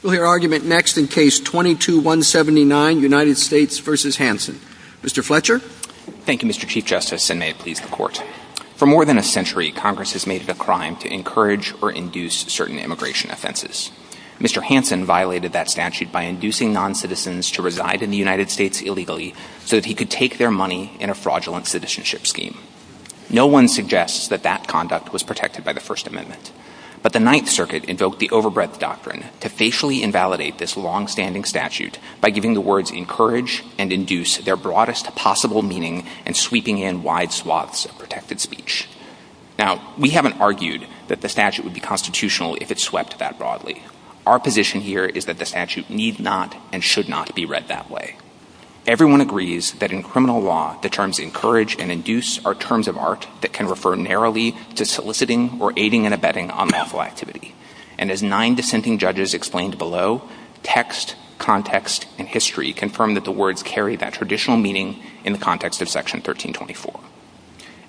For more than a century, Congress has made it a crime to encourage or induce certain immigration offenses. Mr. Hansen violated that statute by inducing non-citizens to reside in the United States illegally so that he could take their money in a fraudulent citizenship scheme. No one suggests that that conduct was protected by the First Amendment, but the Ninth Circuit invoked the overbreadth doctrine to facially invalidate this long-standing statute by giving the words encourage and induce their broadest possible meaning and sweeping in wide swaths of protected speech. We haven't argued that the statute would be constitutional if it swept that broadly. Our position here is that the statute need not and should not be read that way. Everyone agrees that in criminal law, the terms encourage and induce are terms of art that can refer narrowly to soliciting or aiding and abetting unlawful activity. And as nine dissenting judges explained below, text, context, and history confirm that the words carry that traditional meaning in the context of Section 1324.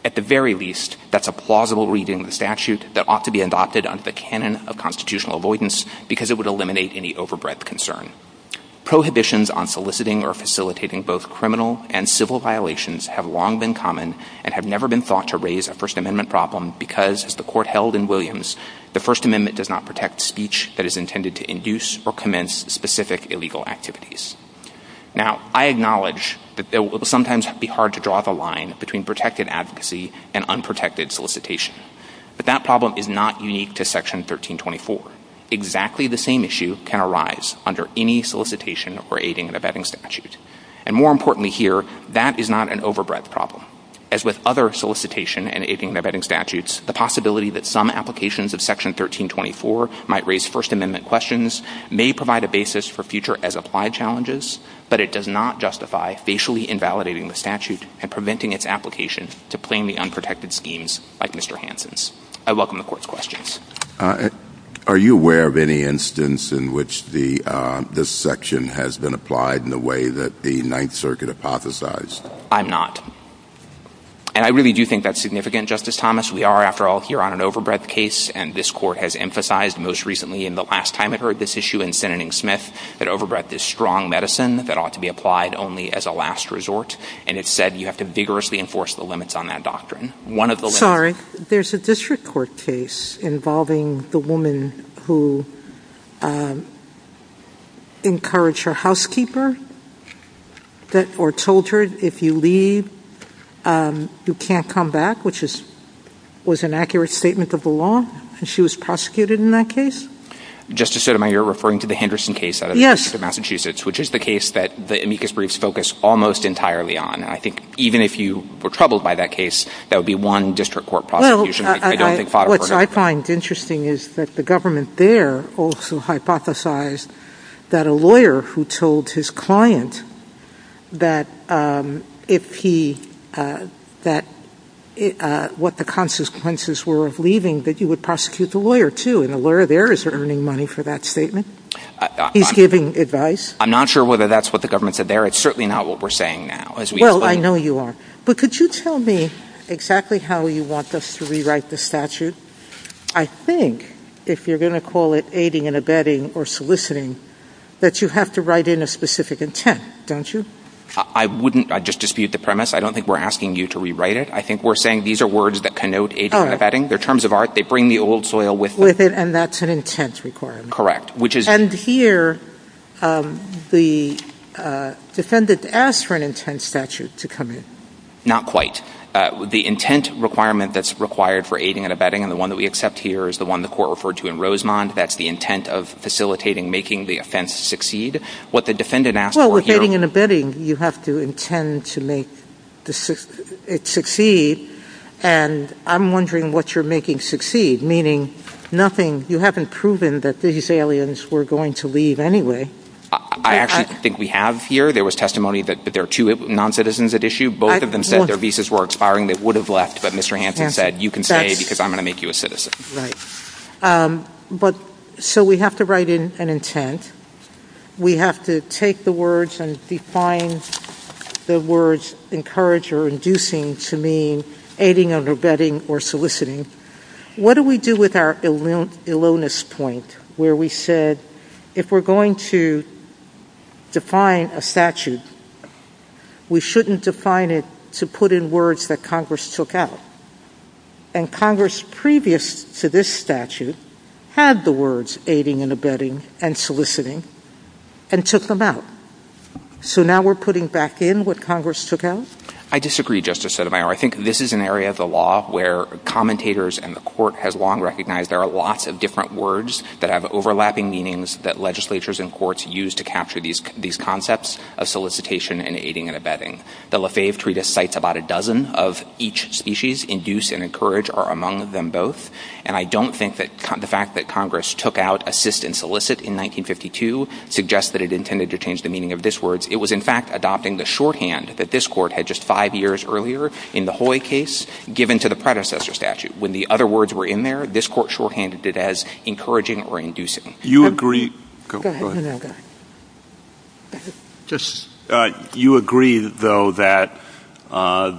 At the very least, that's a plausible reading of the statute that ought to be adopted under the canon of constitutional avoidance because it would eliminate any overbreadth concern. Prohibitions on soliciting or facilitating both criminal and civil violations have long been common and have never been thought to raise a First Amendment problem because, as the court held in Williams, the First Amendment does not protect speech that is intended to induce or commence specific illegal activities. Now, I acknowledge that it will sometimes be hard to draw the line between protected advocacy and unprotected solicitation, but that problem is not unique to Section 1324. Exactly the same issue can arise under any solicitation or aiding and abetting statute. And more importantly here, that is not an overbreadth problem. As with other solicitation and aiding and abetting statutes, the possibility that some applications of Section 1324 might raise First Amendment questions may provide a basis for future as-applied challenges, but it does not justify facially invalidating the statute and preventing its application to plainly unprotected schemes like Mr. Hansen's. I welcome the Court's questions. Are you aware of any instance in which this section has been applied in the way that the Ninth Circuit hypothesized? I'm not. And I really do think that's significant, Justice Thomas. We are, after all, here on an overbreadth case, and this Court has emphasized most recently in the last time I've heard this issue in Senating Smith that overbreadth is strong medicine that ought to be applied only as a last resort, and it's said you have to vigorously enforce the limits on that doctrine. Sorry. There's a district court case involving the woman who encouraged her housekeeper or told her if you leave, you can't come back, which was an accurate statement of the law, and she was prosecuted in that case? Justice Sotomayor, you're referring to the Henderson case out of Massachusetts, which is the case that the amicus briefs focus almost entirely on, and I think even if you were to be one district court prosecution, I don't think five of them are going to be enough. Well, what I find interesting is that the government there also hypothesized that a lawyer who told his client what the consequences were of leaving, that you would prosecute the lawyer, too, and a lawyer there is earning money for that statement. He's giving advice. I'm not sure whether that's what the government said there. It's certainly not what we're saying now, as we explain it. Well, I know you are. But could you tell me exactly how you want us to rewrite the statute? I think, if you're going to call it aiding and abetting or soliciting, that you have to write in a specific intent, don't you? I wouldn't. I'd just dispute the premise. I don't think we're asking you to rewrite it. I think we're saying these are words that connote aiding and abetting. They're terms of art. They bring the old soil with them. With it, and that's an intent requirement. Correct. And here, the defendant asked for an intent statute to come in. Not quite. The intent requirement that's required for aiding and abetting, the one that we accept here is the one the court referred to in Rosemont. That's the intent of facilitating making the offense succeed. What the defendant asked for here... Well, with aiding and abetting, you have to intend to make it succeed, and I'm wondering what you're making succeed, meaning nothing. You haven't proven that these aliens were going to leave anyway. I actually think we have here. There was testimony that there were two non-citizens at issue. Both of them said their visas were expiring. They would have left, but Mr. Hampton said, you can stay because I'm going to make you a citizen. Right. But, so we have to write in an intent. We have to take the words and define the words encourage or inducing to mean aiding and abetting or soliciting. What do we do with our aloneness point where we said, if we're going to define a statute, we shouldn't define it to put in words that Congress took out, and Congress previous to this statute had the words aiding and abetting and soliciting and took them out, so now we're putting back in what Congress took out? I disagree, Justice Sotomayor. I think this is an area of the law where commentators and the court has long recognized there are lots of different words that have overlapping meanings that legislatures and courts use to capture these concepts of solicitation and aiding and abetting. The Lefebvre Treatise cites about a dozen of each species, induce and encourage are among them both, and I don't think that the fact that Congress took out assist and solicit in 1952 suggests that it intended to change the meaning of this word. It was, in fact, adopting the shorthand that this court had just five years earlier in the Hoy case given to the predecessor statute. When the other words were in there, this court shorthanded it as encouraging or inducing. You agree, though, that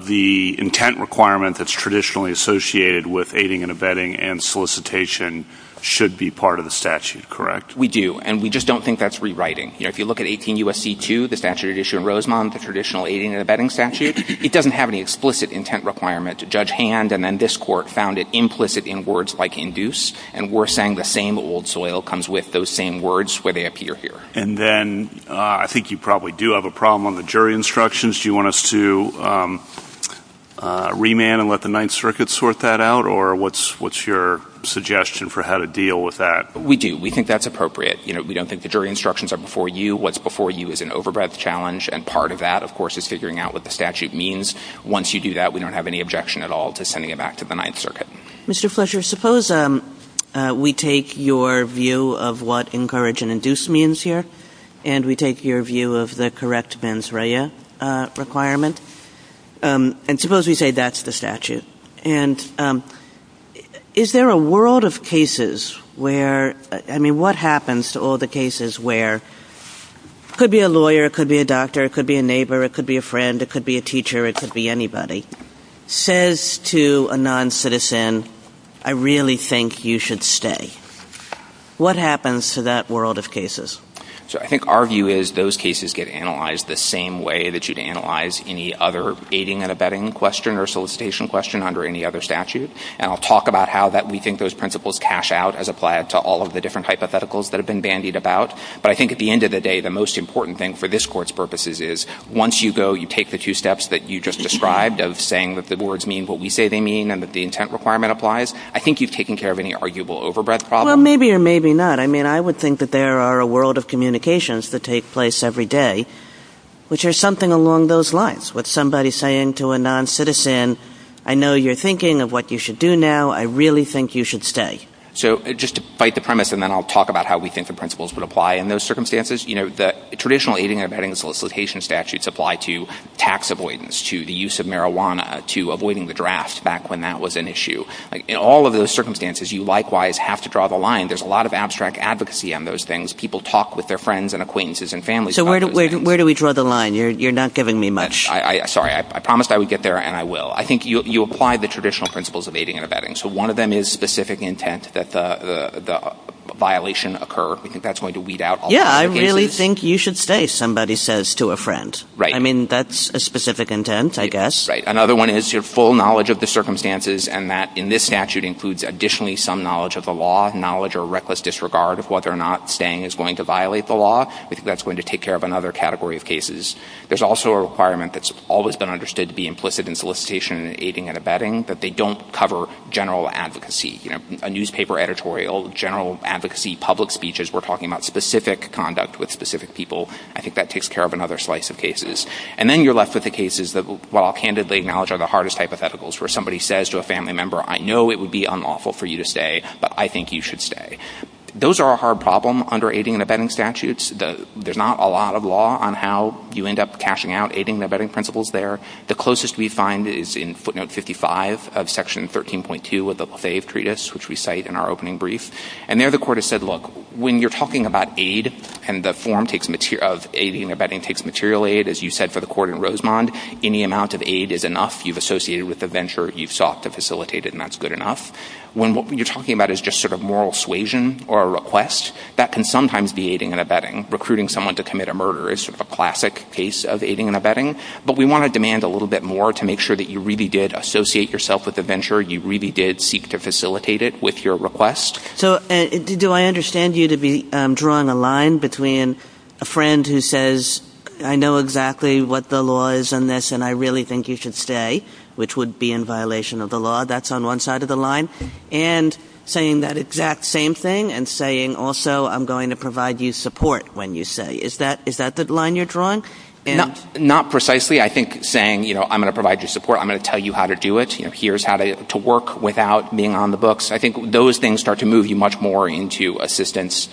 the intent requirement that's traditionally associated with aiding and abetting and solicitation should be part of the statute, correct? We do, and we just don't think that's rewriting. If you look at 18 U.S.C. 2, the statute issued in Rosemont, the traditional aiding and abetting statute, it doesn't have any explicit intent requirement to judge hand, and then this court found it implicit in words like induce, and we're saying the same old soil comes with those same words where they appear here. And then I think you probably do have a problem on the jury instructions. Do you want us to remand and let the Ninth Circuit sort that out? Or what's your suggestion for how to deal with that? We do. We think that's appropriate. We don't think the jury instructions are before you. What's before you is an overbreadth challenge, and part of that, of course, is figuring out what the statute means. Once you do that, we don't have any objection at all to sending it back to the Ninth Circuit. Mr. Fletcher, suppose we take your view of what encourage and induce means here, and we take your view of the correct mens rea requirement, and suppose we say that's the What happens to all the cases where it could be a lawyer, it could be a doctor, it could be a neighbor, it could be a friend, it could be a teacher, it could be anybody, says to a non-citizen, I really think you should stay. What happens to that world of cases? So I think our view is those cases get analyzed the same way that you'd analyze any other aiding and abetting question or solicitation question under any other statute. And I'll talk about how that we think those principles cash out as applied to all of the different hypotheticals that have been bandied about. But I think at the end of the day, the most important thing for this court's purposes is once you go, you take the two steps that you just described of saying that the boards mean what we say they mean and that the intent requirement applies. I think you've taken care of any arguable overbreadth problem. Well, maybe or maybe not. I mean, I would think that there are a world of communications that take place every day, which are something along those lines with somebody saying to a non-citizen, I know you're thinking of what you should do now. I really think you should stay. So just to fight the premise, and then I'll talk about how we think the principles would apply in those circumstances, you know, the traditional aiding and abetting solicitation statutes apply to tax avoidance, to the use of marijuana, to avoiding the drafts back when that was an issue. In all of those circumstances, you likewise have to draw the line. There's a lot of abstract advocacy on those things. People talk with their friends and acquaintances and families. So where do we where do we draw the line? You're not giving me much. Sorry, I promised I would get there and I will. I think you apply the traditional principles of aiding and abetting. So one of them is specific intent that the violation occur. I think that's going to weed out. Yeah, I really think you should stay, somebody says to a friend. Right. I mean, that's a specific intent, I guess. Right. Another one is your full knowledge of the circumstances and that in this statute includes additionally some knowledge of the law, knowledge or reckless disregard of whether or not staying is going to violate the law. I think that's going to take care of another category of cases. There's also a requirement that's always been understood to be implicit in general advocacy, a newspaper editorial, general advocacy, public speeches. We're talking about specific conduct with specific people. I think that takes care of another slice of cases. And then you're left with the cases that, well, I'll candidly acknowledge are the hardest hypotheticals where somebody says to a family member, I know it would be unlawful for you to stay, but I think you should stay. Those are a hard problem under aiding and abetting statutes. There's not a lot of law on how you end up cashing out aiding and abetting principles there. The closest we find is in footnote 55 of section 13.2 of the LaFave Treatise, which we cite in our opening brief. And there the court has said, look, when you're talking about aid and the form takes material of aiding and abetting takes material aid, as you said, for the court in Rosemond, any amount of aid is enough. You've associated with the venture you've sought to facilitate it, and that's good enough. When what you're talking about is just sort of moral suasion or a request that can sometimes be aiding and abetting. Recruiting someone to commit a murder is a classic case of aiding and abetting. But we want to demand a little bit more to make sure that you really did associate yourself with the venture. You really did seek to facilitate it with your request. So do I understand you to be drawing a line between a friend who says, I know exactly what the law is on this and I really think you should stay, which would be in violation of the law. That's on one side of the line. And saying that exact same thing and saying, also, I'm going to provide you support when you say is that is that the line you're drawing? And not precisely, I think, saying, you know, I'm going to provide you support. I'm going to tell you how to do it. Here's how to work without being on the books. I think those things start to move you much more into assistance.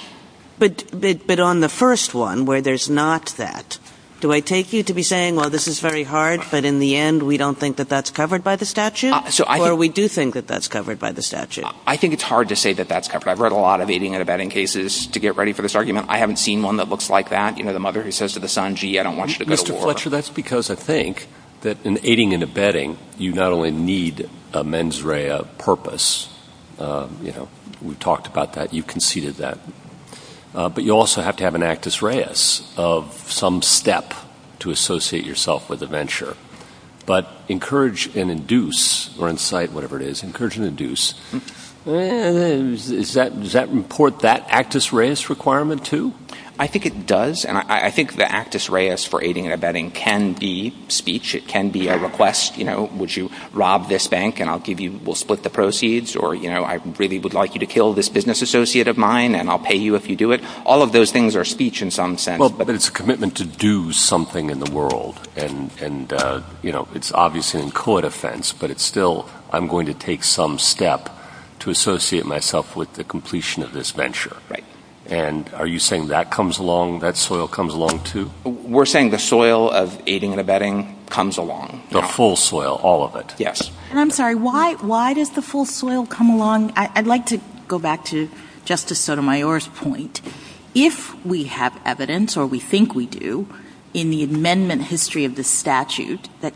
But but on the first one where there's not that, do I take you to be saying, well, this is very hard. But in the end, we don't think that that's covered by the statute. So we do think that that's covered by the statute. I think it's hard to say that that's covered. I've read a lot of aiding and abetting cases to get ready for this argument. I haven't seen one that looks like that. You know, the mother who says to the son, gee, I don't want you to Mr. Fletcher. That's because I think that in aiding and abetting, you not only need a mens rea purpose, you know, we talked about that. You conceded that. But you also have to have an actus reus of some step to associate yourself with a venture, but encourage and induce or incite whatever it is, encourage and induce. Is that does that report that actus reus requirement, too? I think it does. And I think the actus reus for aiding and abetting can be speech. It can be a request, you know, would you rob this bank and I'll give you we'll split the proceeds or, you know, I really would like you to kill this business associate of mine and I'll pay you if you do it. All of those things are speech in some sense. But it's a commitment to do something in the world. And, you know, it's obviously in court offense, but it's still I'm going to take some step to associate myself with the completion of this venture. Right. And are you saying that comes along, that soil comes along to we're saying the soil of aiding and abetting comes along the full soil, all of it. Yes. I'm sorry. Why? Why does the full soil come along? I'd like to go back to Justice Sotomayor's point. If we have evidence or we think we do in the amendment history of the statute that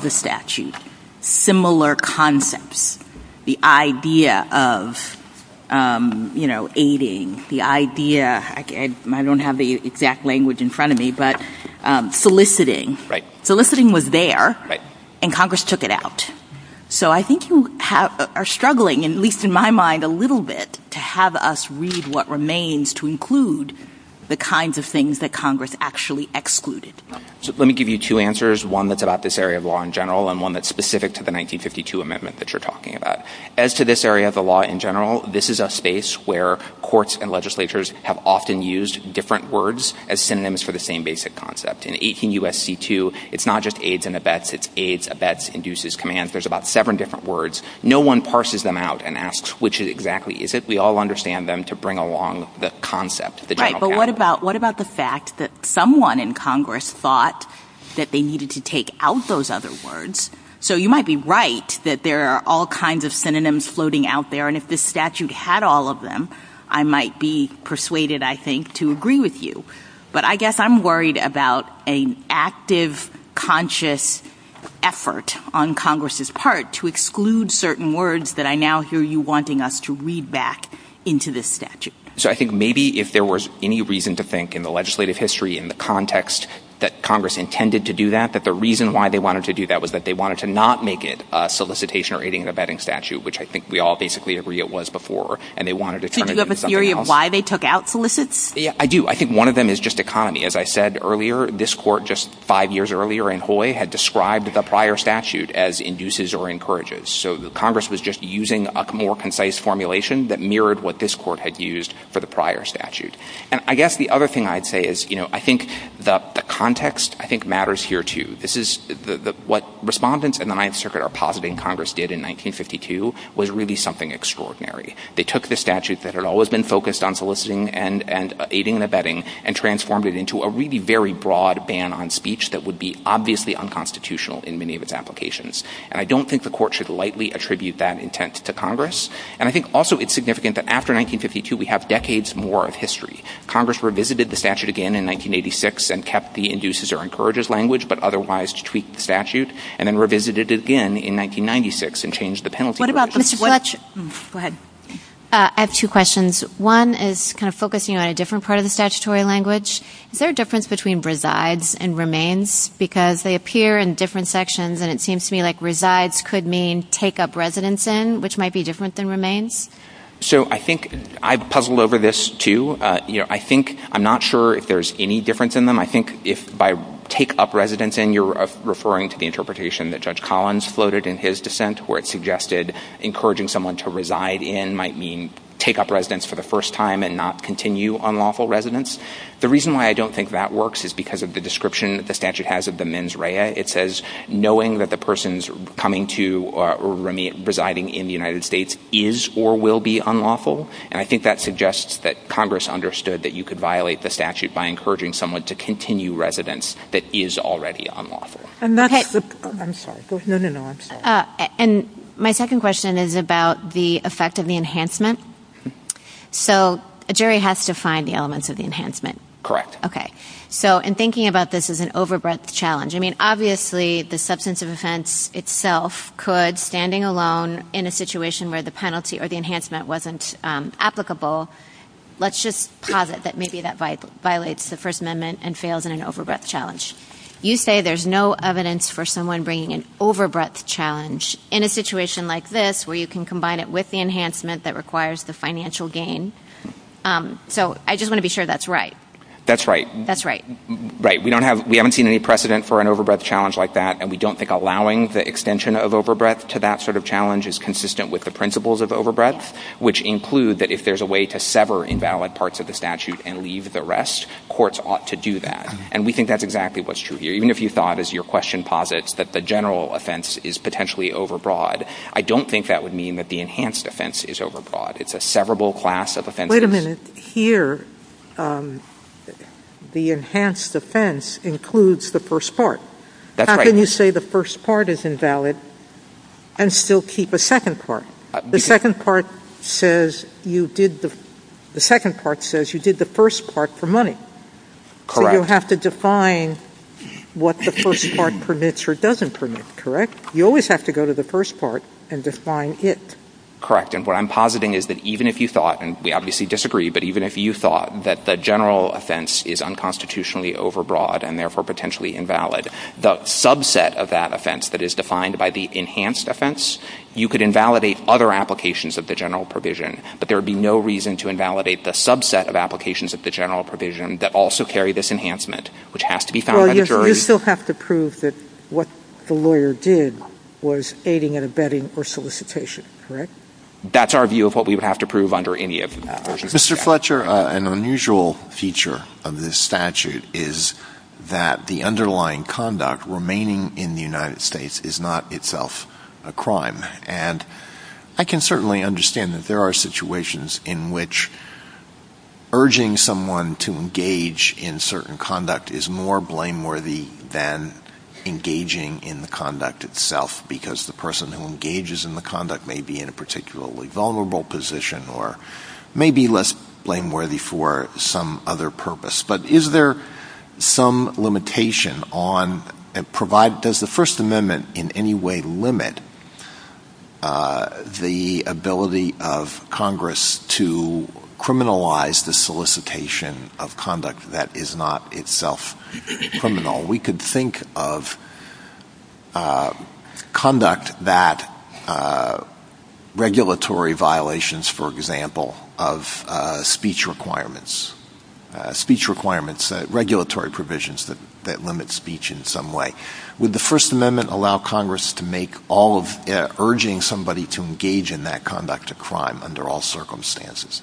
the statute, similar concepts, the idea of, you know, aiding the idea, I don't have the exact language in front of me, but soliciting, soliciting was there and Congress took it out. So I think you are struggling, at least in my mind, a little bit to have us read what remains to include the kinds of things that Congress actually excluded. So let me give you two answers, one that's about this area of law in general and one that's specific to the 1952 amendment that you're talking about. As to this area of the law in general, this is a space where courts and legislatures have often used different words as synonyms for the same basic concept. In 18 U.S.C. 2, it's not just aids and abets, it's aids, abets, induces, commands. There's about seven different words. No one parses them out and asks which exactly is it. We all understand them to bring along the concept. But what about what about the fact that someone in Congress thought that they needed to take out those other words? So you might be right that there are all kinds of synonyms floating out there. And if this statute had all of them, I might be persuaded, I think, to agree with you. But I guess I'm worried about an active, conscious effort on Congress's part to exclude certain words that I now hear you wanting us to read back into this statute. So I think maybe if there was any reason to think in the legislative history, in the context that Congress intended to do that, that the reason why they wanted to do that was that they wanted to not make it a solicitation or aid and abetting statute, which I think we all basically agree it was before. And they wanted to turn it into something else. Do you have a theory of why they took out solicits? I do. I think one of them is just economy. As I said earlier, this court just five years earlier in Hoy had described the prior statute as induces or encourages. So Congress was just using a more concise formulation that mirrored what this court had used for the prior statute. And I guess the other thing I'd say is, you know, I think the context I think matters here, too. This is what respondents in the Ninth Circuit are positing Congress did in 1952 was really something extraordinary. They took the statute that had always been focused on soliciting and aiding and abetting and transformed it into a really very broad ban on speech that would be obviously unconstitutional in many of its applications. And I don't think the court should lightly attribute that intent to Congress. And I think also it's significant that after 1952, we have decades more of history. Congress revisited the statute again in 1986 and kept the induces or encourages language, but otherwise tweaked the statute and then revisited it again in 1996 and changed the penalty. What about such? Go ahead. I have two questions. One is kind of focusing on a different part of the statutory language. Is there a difference between presides and remains because they appear in different sections and it seems to me like resides could mean take up residence in, which might be different than remains. So I think I've puzzled over this, too. I think I'm not sure if there's any difference in them. I think if I take up residence and you're referring to the interpretation that Judge Collins floated in his dissent, where it suggested encouraging someone to reside in might mean take up residence for the first time and not continue on lawful residence. The reason why I don't think that works is because of the description that the statute has of the mens rea. It says knowing that the person's coming to or residing in the United States is or will be unlawful. And I think that suggests that Congress understood that you could violate the statute by encouraging someone to continue residence that is already unlawful. I'm not. I'm sorry. No, no, no. And my second question is about the effect of the enhancement. So a jury has to find the elements of the enhancement. Correct. OK. So and thinking about this is an over breadth challenge. I mean, obviously, the substance of offense itself could standing alone in a situation where the penalty or the enhancement wasn't applicable. Let's just have it that maybe that violates the First Amendment and fails in an over breadth challenge. You say there's no evidence for someone bringing an over breadth challenge in a situation like this where you can combine it with the enhancement that requires the financial gain. So I just want to be sure that's right. That's right. That's right. Right. We don't have we haven't seen any precedent for an over breadth challenge like that. And we don't think allowing the extension of over breadth to that sort of challenge is consistent with the principles of over breadth, which include that if there's a way to sever invalid parts of the statute and leave the rest, courts ought to do that. And we think that's exactly what's true here. Even if you thought, as your question posits, that the general offense is potentially over broad. I don't think that would mean that the enhanced offense is over broad. It's a severable class of offense. Wait a minute here. The enhanced offense includes the first part. That's when you say the first part is invalid and still keep a second part. The second part says you did the the second part says you did the first part for money. Correct. You have to define what the first part permits or doesn't permit. Correct. You always have to go to the first part and define it. Correct. And what I'm positing is that even if you thought, and we obviously disagree, but even if you thought that the general offense is unconstitutionally over broad and therefore potentially invalid, the subset of that offense that is defined by the enhanced offense, you could invalidate other applications of the general provision. But there would be no reason to invalidate the subset of applications of the general provision that also carry this enhancement, which has to be found. You still have to prove that what the lawyer did was aiding and abetting or solicitation. That's our view of what we would have to prove under any of that. Mr. Fletcher, an unusual feature of this statute is that the underlying conduct remaining in the United States is not itself a crime. And I can certainly understand that there are situations in which urging someone to engage in certain conduct is more blameworthy than engaging in the conduct itself, because the person who engages in the conduct may be in a particularly vulnerable position or may be less blameworthy for some other purpose. But is there some limitation on, does the First Amendment in any way limit the ability of Congress to criminalize the solicitation of conduct that is not itself criminal? We could think of conduct that regulatory violations, for example, of speech requirements, speech requirements, regulatory provisions that limit speech in some way. Would the First Amendment allow Congress to make all of urging somebody to engage in that conduct a crime under all circumstances?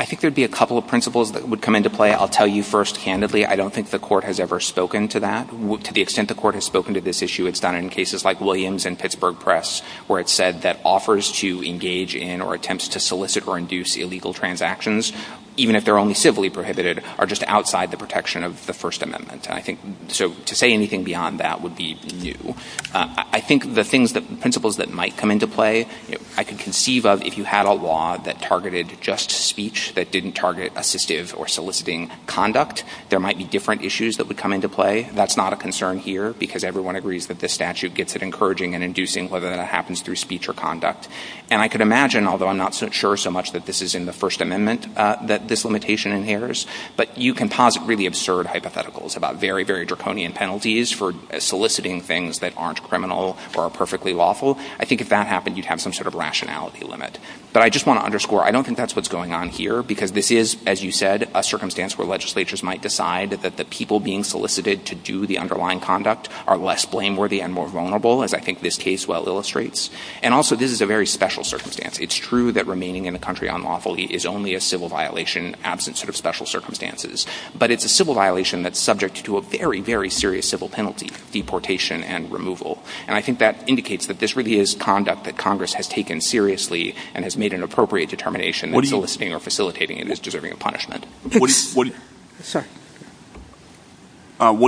I think there'd be a couple of principles that would come into play. I'll tell you first handedly, I don't think the court has ever spoken to that. To the extent the court has spoken to this issue, it's done in cases like Williams and Pittsburgh Press, where it said that offers to engage in or attempts to solicit or induce illegal transactions, even if they're only civilly prohibited, are just outside the protection of the First Amendment. I think so to say anything beyond that would be new. I think the things that principles that might come into play, I can conceive of if you had a law that targeted just speech, that didn't target assistive or soliciting conduct, there might be different issues that would come into play. That's not a concern here because everyone agrees that this statute gets it encouraging and inducing whether that happens through speech or conduct. And I could imagine, although I'm not so sure so much that this is in the First Amendment, that this limitation inheres, but you can posit really absurd hypotheticals about very, very draconian penalties for soliciting things that aren't criminal or perfectly lawful. I think if that happened, you'd have some sort of rationality limit. But I just want to underscore, I don't think that's what's going on here, because this is, as you said, a circumstance where legislatures might decide that the people being solicited to do the underlying conduct are less blameworthy and more vulnerable, as I think this case well illustrates. And also, this is a very special circumstance. It's true that remaining in the country unlawfully is only a civil violation, absence of special circumstances. But it's a civil violation that's subject to a very, very serious civil penalty, deportation and removal. And I think that indicates that this really is conduct that Congress has taken seriously and has made an appropriate determination soliciting or facilitating and is deserving of punishment. What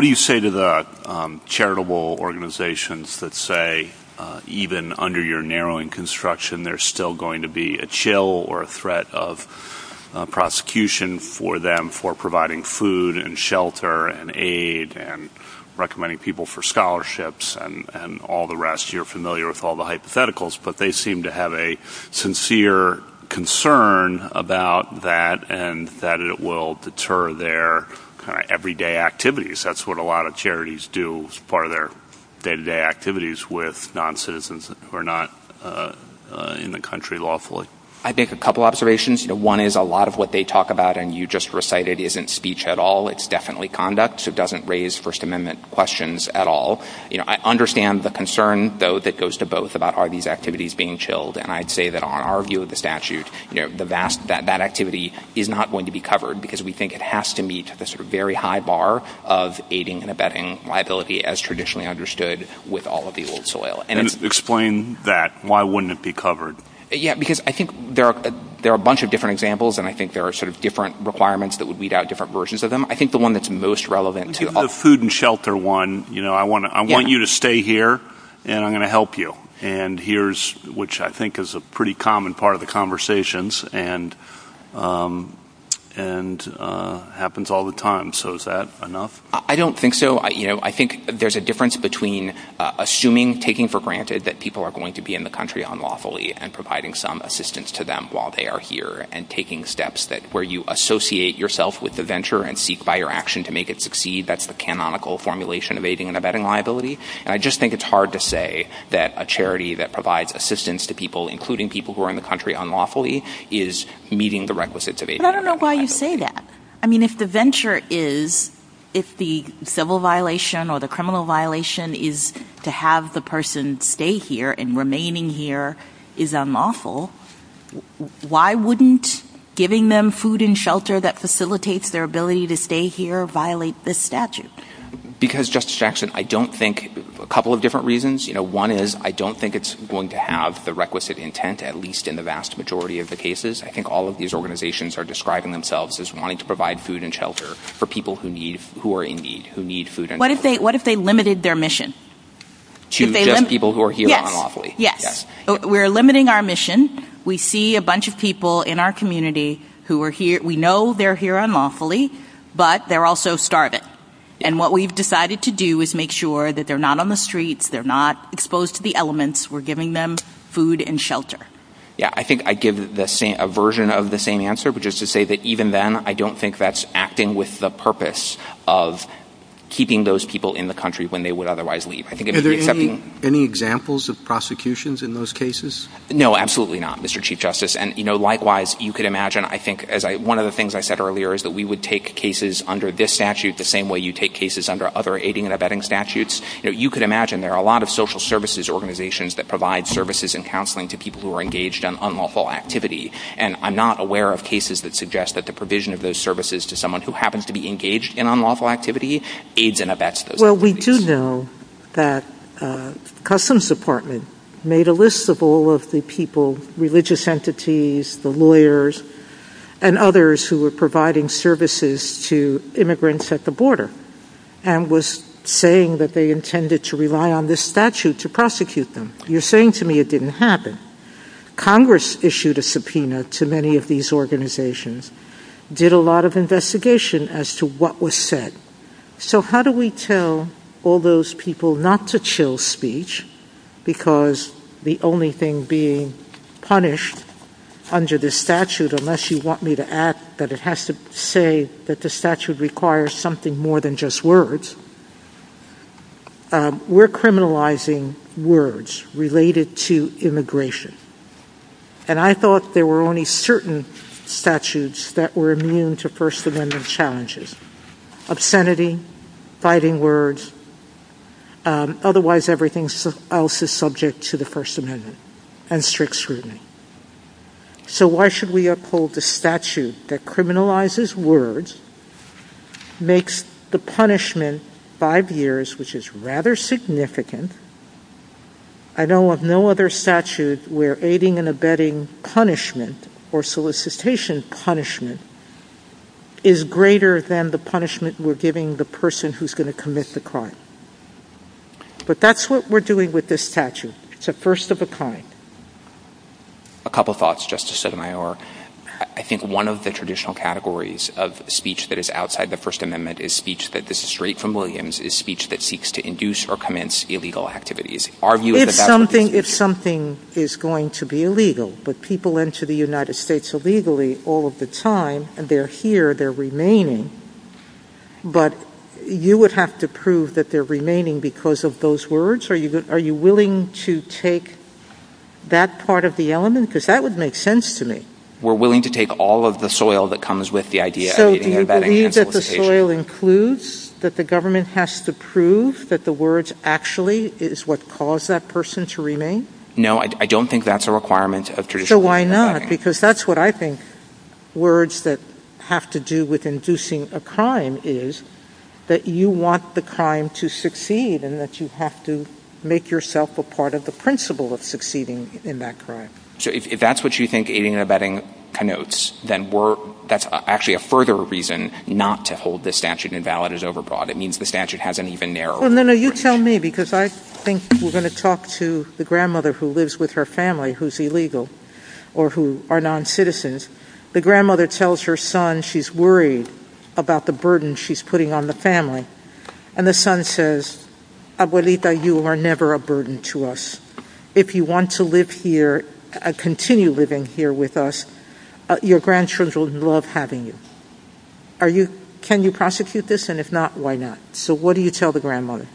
do you say to the charitable organizations that say, even under your narrowing construction, there's still going to be a chill or a threat of prosecution for them for providing food and shelter and aid and recommending people for scholarships and all the rest? You're familiar with all the hypotheticals, but they seem to have a sincere concern about that and that it will deter their everyday activities. That's what a lot of charities do as part of their day-to-day activities with non-citizens who are not in the country lawfully. I think a couple of observations. One is a lot of what they talk about and you just recited isn't speech at all. It's definitely conduct. So it doesn't raise First Amendment questions at all. I understand the concern, though, that goes to both about are these activities being chilled? And I'd say that on our view of the statute, that activity is not going to be covered because we think it has to meet a very high bar of aiding and abetting liability as traditionally understood with all of the old soil. And explain that. Why wouldn't it be covered? Yeah, because I think there are a bunch of different examples and I think there are sort of different requirements that would weed out different versions of them. I think the one that's most relevant to the food and shelter one, you know, I want to I want you to stay here and I'm going to help you. And here's which I think is a pretty common part of the conversations and and happens all the time. So is that enough? I don't think so. I think there's a difference between assuming, taking for granted that people are going to be in the country unlawfully and providing some assistance to them while they are here and taking steps that where you associate yourself with the venture and seek by your action to make it succeed. That's the canonical formulation of aiding and abetting liability. And I just think it's hard to say that a charity that provides assistance to people, including people who are in the country unlawfully, is meeting the requisites of a veteran. I don't know why you say that. I mean, if the venture is if the civil violation or the criminal violation is to have the person stay here and remaining here is unlawful, why wouldn't giving them food and shelter be a statute? Because, Justice Jackson, I don't think a couple of different reasons. You know, one is I don't think it's going to have the requisite intent, at least in the vast majority of the cases. I think all of these organizations are describing themselves as wanting to provide food and shelter for people who need who are in need, who need food. And what if they what if they limited their mission to people who are here unlawfully? Yes, we're limiting our mission. We see a bunch of people in our community who are here. We know they're here unlawfully, but they're also starving. And what we've decided to do is make sure that they're not on the streets. They're not exposed to the elements. We're giving them food and shelter. Yeah, I think I give the same a version of the same answer, but just to say that even then, I don't think that's acting with the purpose of keeping those people in the country when they would otherwise leave. I think it is any examples of prosecutions in those cases? No, absolutely not, Mr. Chief Justice. And, you know, likewise, you could imagine, I think, as one of the things I said earlier, is that we would take cases under this statute the same way you take cases under other aiding and abetting statutes. You could imagine there are a lot of social services organizations that provide services and counseling to people who are engaged in unlawful activity. And I'm not aware of cases that suggest that the provision of those services to someone who happens to be engaged in unlawful activity, aids and abets. Well, we do know that Customs Department made a list of all of the people, religious entities, the lawyers, and others who were providing services to immigrants at the border and was saying that they intended to rely on this statute to prosecute them. You're saying to me it didn't happen. Congress issued a subpoena to many of these organizations, did a lot of investigation as to what was said. So how do we tell all those people not to chill speech because the only thing being punished under this statute, unless you want me to add that it has to say that the statute requires something more than just words, we're criminalizing words related to immigration. And I thought there were only certain statutes that were immune to First Amendment challenges, obscenity, fighting words. Otherwise, everything else is subject to the First Amendment and strict scrutiny. So why should we uphold the statute that criminalizes words, makes the punishment five years, which is rather significant. I know of no other statute where aiding and abetting punishment or solicitation punishment is greater than the punishment we're giving the person who's going to commit the crime. But that's what we're doing with this statute. It's a first of a kind. A couple of thoughts, Justice Sotomayor, I think one of the traditional categories of speech that is outside the First Amendment is speech that is straight from Williams, is speech that seeks to induce or commence illegal activities. If something is going to be illegal, but people into the United States illegally all of the time and they're here, they're remaining. But you would have to prove that they're remaining because of those words. Are you are you willing to take that part of the element? Because that would make sense to me. We're willing to take all of the soil that comes with the idea. So do you believe that the soil includes that the government has to prove that the words actually is what caused that person to remain? No, I don't think that's a requirement of traditional. So why not? Because that's what I think words that have to do with inducing a crime is that you want the crime to succeed and that you have to make yourself a part of the principle of succeeding in that crime. So if that's what you think aiding and abetting connotes, then we're that's actually a further reason not to hold the statute invalid is overbought. It means the statute hasn't even narrowed. Well, no, you tell me, because I think we're going to talk to the grandmother who lives with her family, who's illegal or who are noncitizens. The grandmother tells her son she's worried about the burden she's putting on the family and the son says, Abuelita, you are never a burden to us. If you want to live here and continue living here with us, your grandchildren would love having you. Are you can you prosecute this? And if not, why not? So what do you tell the grandmother?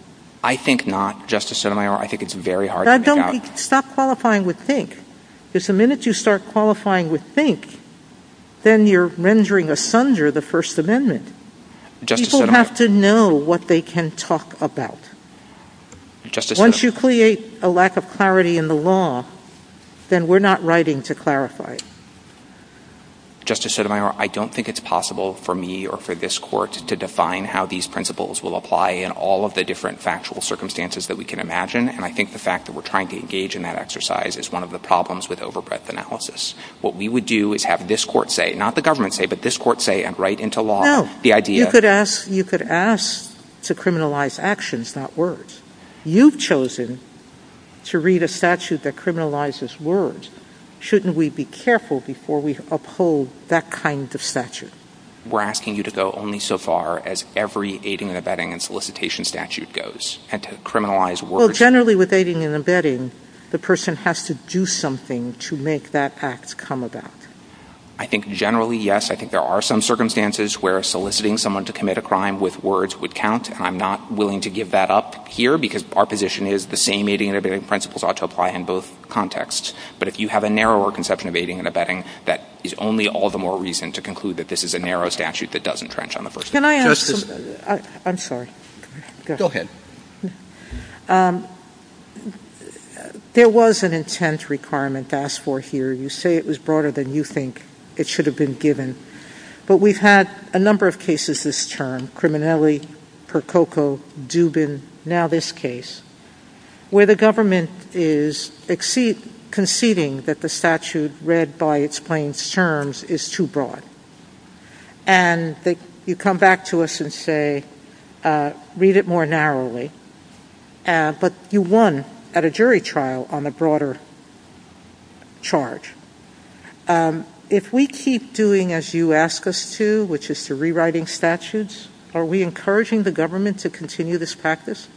I think not, Justice Sotomayor. I think it's very hard. Don't stop qualifying with think. Just the minute you start qualifying with think, then you're rendering asunder the First Amendment. People have to know what they can talk about. Once you create a lack of clarity in the law, then we're not writing to clarify. Justice Sotomayor, I don't think it's possible for me or for this court to define how these principles will apply in all of the different factual circumstances that we can imagine. And I think the fact that we're trying to engage in that exercise is one of the problems with overbreadth analysis. What we would do is have this court say, not the government say, but this court say and write into law the idea that you could ask to criminalize actions, not words. You've chosen to read a statute that criminalizes words. Shouldn't we be careful before we uphold that kind of statute? We're asking you to go only so far as every aiding and abetting and solicitation statute goes and to criminalize words. Generally, with aiding and abetting, the person has to do something to make that act come about. I think generally, yes. I think there are some circumstances where soliciting someone to commit a crime with words would count. I'm not willing to give that up here because our position is the same aiding and abetting principles ought to apply in both contexts. But if you have a narrower conception of aiding and abetting, that is only all the more reason to conclude that this is a narrow statute that doesn't trench on the First Amendment. Can I ask? I'm sorry. Go ahead. There was an intent requirement asked for here. You say it was broader than you think it should have been given. But we've had a number of cases this term. Criminality, Percoco, Dubin, now this case where the government is exceed conceding that the statute read by its plain terms is too broad. And you come back to us and say, read it more narrowly, but you won at a jury trial on a broader charge. If we keep doing as you ask us to, which is to rewriting statutes, are we encouraging the government to continue this practice?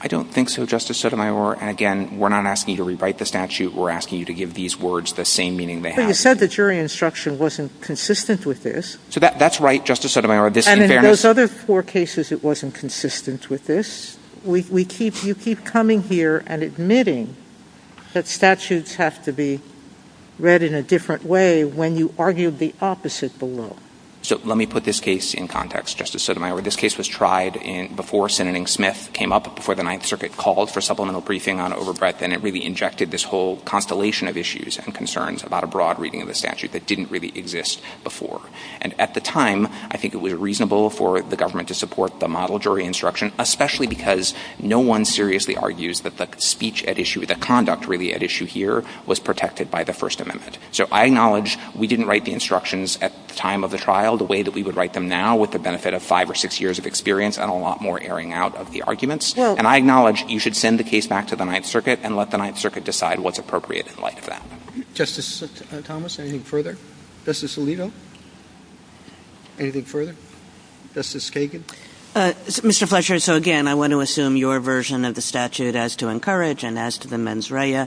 I don't think so, Justice Sotomayor. And again, we're not asking you to rewrite the statute. We're asking you to give these words the same meaning. But you said the jury instruction wasn't consistent with this. So that's right, Justice Sotomayor. And in those other four cases, it wasn't consistent with this. We keep you keep coming here and admitting that statutes have to be read in a different way when you argued the opposite below. So let me put this case in context, Justice Sotomayor. This case was tried before Sen. Smith came up, before the Ninth Circuit called for supplemental briefing on overbreadth. And it really injected this whole constellation of issues and concerns about a broad reading of the statute that didn't really exist before. And at the time, I think it was reasonable for the government to support the model jury instruction, especially because no one seriously argues that the speech at issue, the conduct really at issue here was protected by the First Amendment. So I acknowledge we didn't write the instructions at the time of the trial the way that we would write them now with the benefit of five or six years of experience and a lot more airing out of the arguments. And I acknowledge you should send the case back to the Ninth Circuit and let the Ninth Circuit decide what's appropriate in light of that. Justice Thomas, anything further? Justice Alito? Anything further? Justice Sagan? Mr. Fletcher, so again, I want to assume your version of the statute as to encourage and as to the mens rea.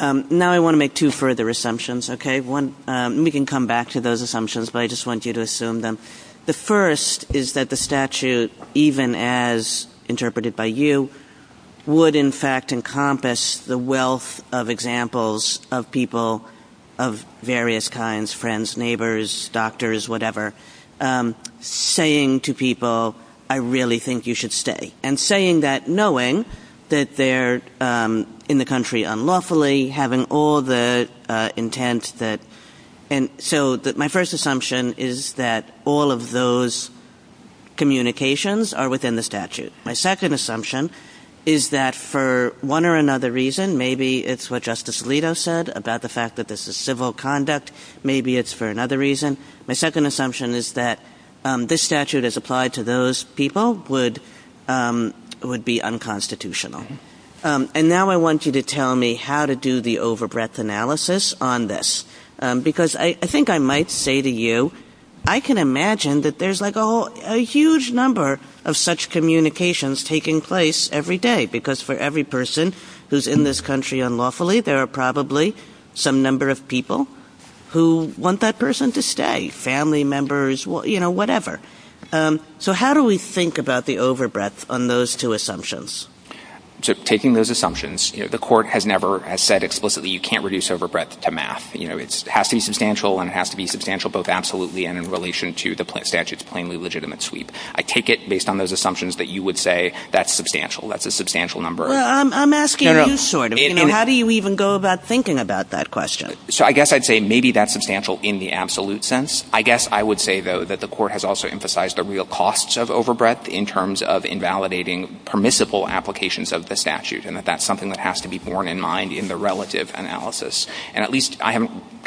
Now, I want to make two further assumptions, OK? One, we can come back to those assumptions, but I just want you to assume them. The first is that the statute, even as interpreted by you, would in fact encompass the wealth of examples of people of various kinds, friends, neighbors, doctors, whatever, saying to people, I really think you should stay and saying that knowing that they're in the country unlawfully, having all the intent that. And so my first assumption is that all of those communications are within the statute. My second assumption is that for one or another reason, maybe it's what Justice Alito said about the fact that this is civil conduct. Maybe it's for another reason. My second assumption is that this statute is applied to those people would be unconstitutional. And now I want you to tell me how to do the overbreadth analysis on this. Because I think I might say to you, I can imagine that there's like a huge number of such communications taking place every day, because for every person who's in this country unlawfully, there are probably some number of people who want that person to stay, family members, you know, whatever. So how do we think about the overbreadth on those two assumptions? Taking those assumptions, the court has never said explicitly you can't reduce overbreadth to math. You know, it has to be substantial and it has to be substantial, both absolutely and in relation to the statute's plainly legitimate sweep. I take it based on those assumptions that you would say that's substantial. That's a substantial number. I'm asking, how do you even go about thinking about that question? So I guess I'd say maybe that's substantial in the absolute sense. I guess I would say, though, that the court has also emphasized the real costs of overbreadth in terms of invalidating permissible applications of the statute and that that's something that has to be borne in mind in the relative analysis. And at least I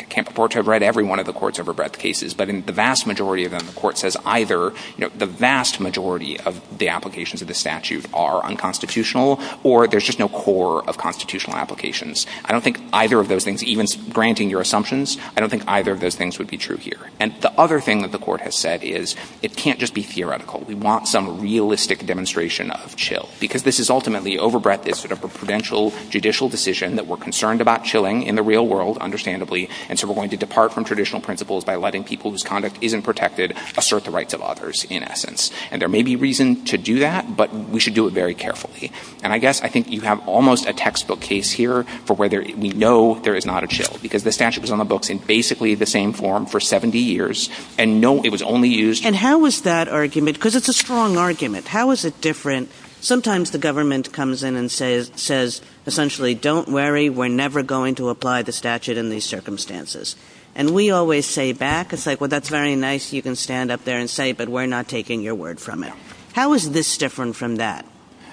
can't afford to have read every one of the court's overbreadth cases, but in the vast majority of them, the court says either the vast majority of the applications of the statute are unconstitutional or there's just no core of constitutional applications. I don't think either of those things, even granting your assumptions, I don't think either of those things would be true here. And the other thing that the court has said is it can't just be theoretical. We want some realistic demonstration of chill because this is ultimately overbreadth is sort of a provincial judicial decision that we're concerned about chilling in the real world, understandably. And so we're going to depart from traditional principles by letting people whose conduct isn't protected assert the rights of others in essence. And there may be reason to do that, but we should do it very carefully. And I guess I think you have almost a textbook case here for whether we know there is not a chill because the statute is on the books in basically the same form for 70 years and no, it was only used. And how was that argument? Because it's a strong argument. How is it different? Sometimes the government comes in and says, says essentially, don't worry, we're never going to apply the statute in these circumstances. And we always say back, it's like, well, that's very nice. You can stand up there and say, but we're not taking your word from it. How is this different from that?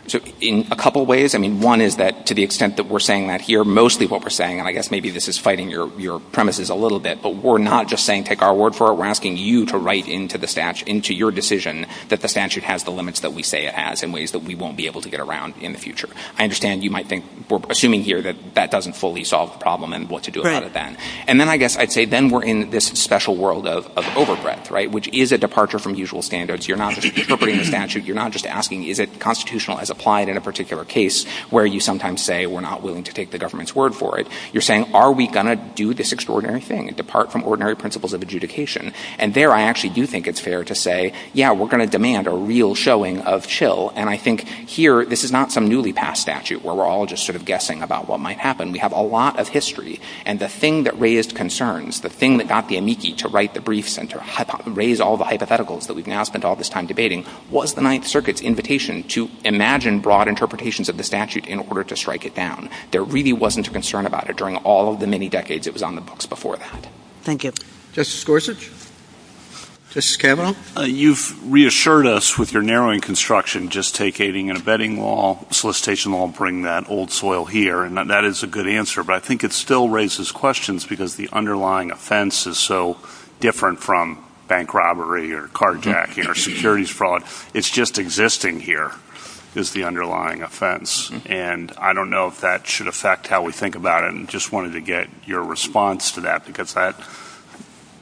So in a couple of ways, I mean, one is that to the extent that we're saying that here, mostly what we're saying, and I guess maybe this is fighting your, your premises a little bit, but we're not just saying, take our word for it. We're asking you to write into the stash, into your decision that the statute has the ways that we won't be able to get around in the future. I understand. You might think we're assuming here that that doesn't fully solve the problem and what to do about it then. And then I guess I'd say, then we're in this special world of, of over breadth, right? Which is a departure from usual standards. You're not interpreting the statute. You're not just asking, is it constitutional as applied in a particular case where you sometimes say, we're not willing to take the government's word for it. You're saying, are we going to do this extraordinary thing and depart from ordinary principles of adjudication? And there, I actually do think it's fair to say, yeah, we're going to demand a real showing of chill. And I think here, this is not some newly passed statute where we're all just sort of guessing about what might happen. We have a lot of history and the thing that raised concerns, the thing that got the amici to write the briefs and to raise all the hypotheticals that we've now spent all this time debating was the ninth circuit's invitation to imagine broad interpretations of the statute in order to strike it down. There really wasn't a concern about it during all of the many decades it was on the books before that. Thank you. Justice Gorsuch, Justice Campbell. You've reassured us with your narrowing construction, just take aiding and abetting law, solicitation law, and bring that old soil here. And that is a good answer, but I think it still raises questions because the underlying offense is so different from bank robbery or carjacking or securities fraud. It's just existing here is the underlying offense. And I don't know if that should affect how we think about it. And just wanted to get your response to that, because that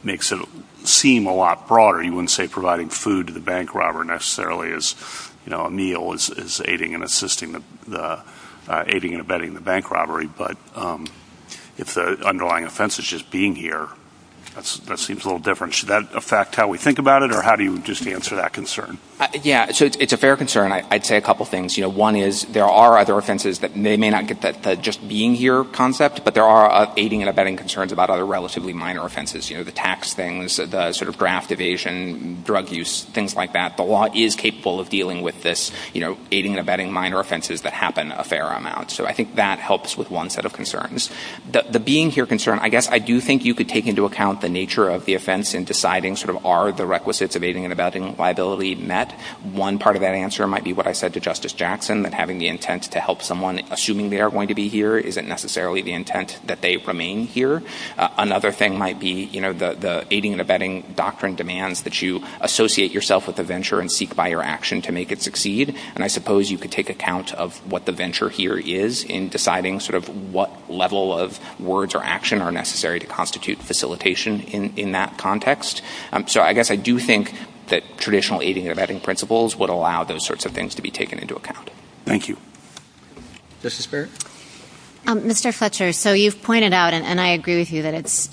makes it seem a lot broader. You wouldn't say providing food to the bank robber necessarily is, you know, a meal is aiding and assisting the aiding and abetting the bank robbery. But if the underlying offense is just being here, that seems a little different. Should that affect how we think about it or how do you just answer that concern? Yeah, so it's a fair concern. I'd say a couple of things. You know, one is there are other offenses that may not get that just being here concept, but there are aiding and abetting concerns about other relatively minor offenses, you know, the tax things, the sort of graft evasion, drug use, things like that. But law is capable of dealing with this, you know, aiding and abetting minor offenses that happen a fair amount. So I think that helps with one set of concerns. The being here concern, I guess I do think you could take into account the nature of the offense and deciding sort of are the requisites of aiding and abetting liability met. One part of that answer might be what I said to Justice Jackson, that having the intent to help someone assuming they are going to be here isn't necessarily the intent that they remain here. Another thing might be, you know, the aiding and abetting doctrine demands that you associate yourself with the venture and seek by your action to make it succeed. And I suppose you could take account of what the venture here is in deciding sort of what level of words or action are necessary to constitute facilitation in that context. So I guess I do think that traditional aiding and abetting principles would allow those sorts of things to be taken into account. Thank you. Justice Barrett? Mr. Fletcher, so you've pointed out and I agree with you that it's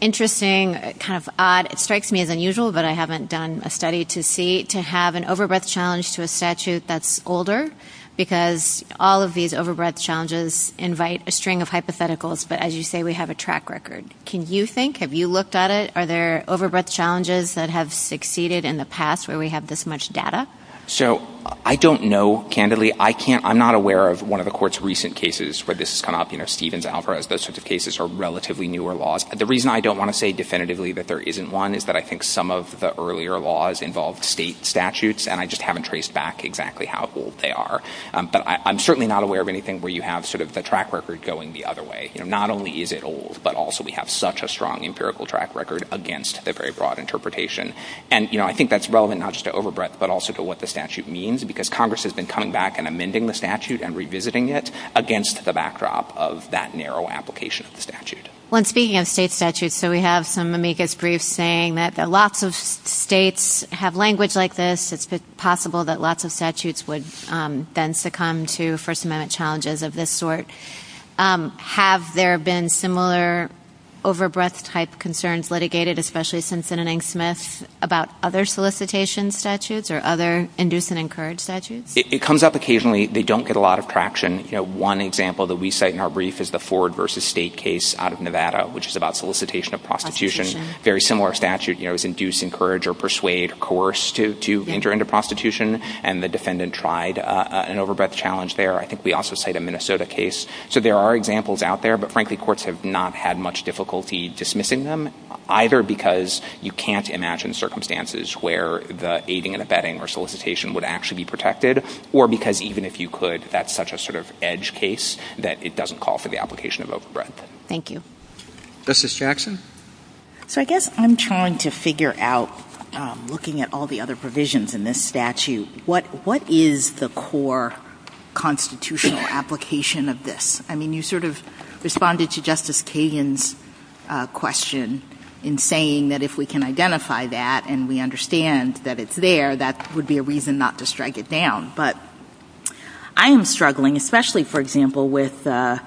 interesting, kind of odd. It strikes me as unusual, but I haven't done a study to see, to have an overbreath challenge to a statute that's older because all of these overbreath challenges invite a string of hypotheticals. But as you say, we have a track record. Can you think, have you looked at it? Are there overbreath challenges that have succeeded in the past where we have this much data? So I don't know, candidly, I can't, I'm not aware of one of the court's recent cases where this has come up, you know, Stevens Alvarez, those sorts of cases are relatively newer laws. The reason I don't want to say definitively that there isn't one is that I think some of the earlier laws involved state statutes and I just haven't traced back exactly how old they are. But I'm certainly not aware of anything where you have sort of the track record going the other way. Not only is it old, but also we have such a strong empirical track record against the very broad interpretation. And, you know, I think that's relevant not just to overbreath, but also to what the statute means, because Congress has been coming back and amending the statute and revisiting it against the backdrop of that narrow application of the statute. When speaking of state statutes, so we have some amicus briefs saying that lots of states have language like this. It's possible that lots of statutes would then succumb to First Amendment challenges of this sort. Have there been similar overbreath type concerns litigated, especially Simpson and Angsmith, about other solicitation statutes or other induce and encourage statutes? It comes up occasionally. They don't get a lot of traction. One example that we cite in our brief is the Ford v. State case out of Nevada, which is about solicitation of prostitution. Very similar statute, you know, is induce, encourage or persuade, coerce to enter into prostitution. And the defendant tried an overbreath challenge there. I think we also cite a Minnesota case. So there are examples out there. But frankly, courts have not had much difficulty dismissing them, either because you can't imagine circumstances where the aiding and abetting or solicitation would actually be protected or because even if you could, that's such a sort of edge case that it doesn't call for the application of overbreath. Thank you. Justice Jackson? So I guess I'm trying to figure out, looking at all the other provisions in this statute, what what is the core constitutional application of this? I mean, you sort of responded to Justice Kagan's question in saying that if we can identify that and we understand that it's there, that would be a reason not to strike it down. But I'm struggling, especially, for example, with the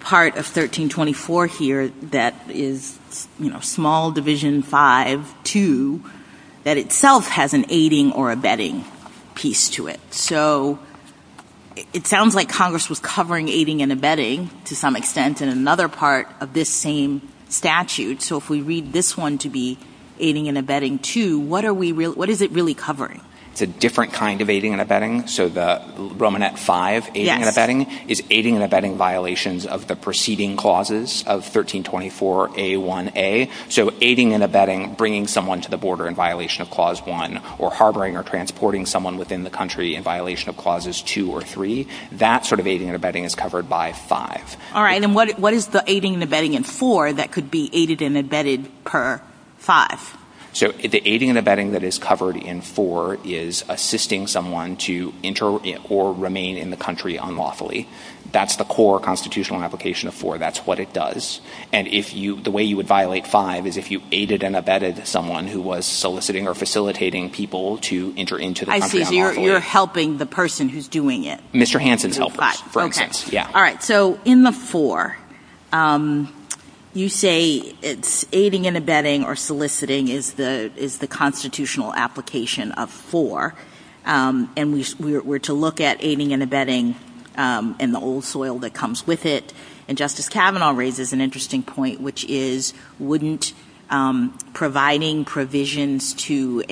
part of 1324 here that is small Division 5-2 that itself has an aiding or abetting piece to it. So it sounds like Congress was covering aiding and abetting to some extent in another part of this same statute. So if we read this one to be aiding and abetting, too, what are we what is it really covering? It's a different kind of aiding and abetting. So the Romanet 5 aiding and abetting is aiding and abetting violations of the preceding clauses of 1324A1A. So aiding and abetting, bringing someone to the border in violation of Clause 1 or harboring or transporting someone within the country in violation of Clauses 2 or 3. That sort of aiding and abetting is covered by 5. All right. And what is the aiding and abetting in 4 that could be aided and abetted per 5? So the aiding and abetting that is covered in 4 is assisting someone to enter or remain in the country unlawfully. That's the core constitutional application of 4. That's what it does. And if you the way you would violate 5 is if you aided and abetted someone who was soliciting or facilitating people to enter into the country unlawfully. I see. You're helping the person who's doing it. Mr. Hansen's helpers. All right. So in the 4, you say it's aiding and abetting or soliciting is the constitutional application of 4. And we were to look at aiding and abetting in the old soil that comes with it. And Justice Kavanaugh raises an interesting point, which is wouldn't providing provisions to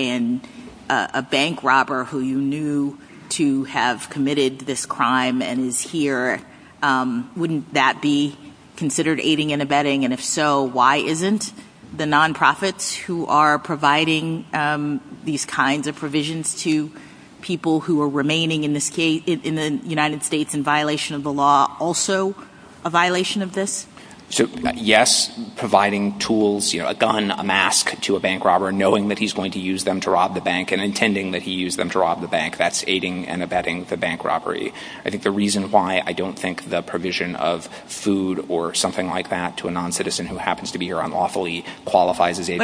a bank robber who you knew to have committed this crime and is here, wouldn't that be considered aiding and abetting? And if so, why isn't the nonprofits who are providing these kinds of provisions to people who are remaining in the United States in violation of the law also a violation of this? So, yes, providing tools, a gun, a mask to a bank robber, knowing that he's going to use them to rob the bank and intending that he used them to rob the bank, that's aiding and abetting the bank robbery. I think the reason why I don't think the provision of food or something like that to a non-citizen who happens to be here unlawfully qualifies as aiding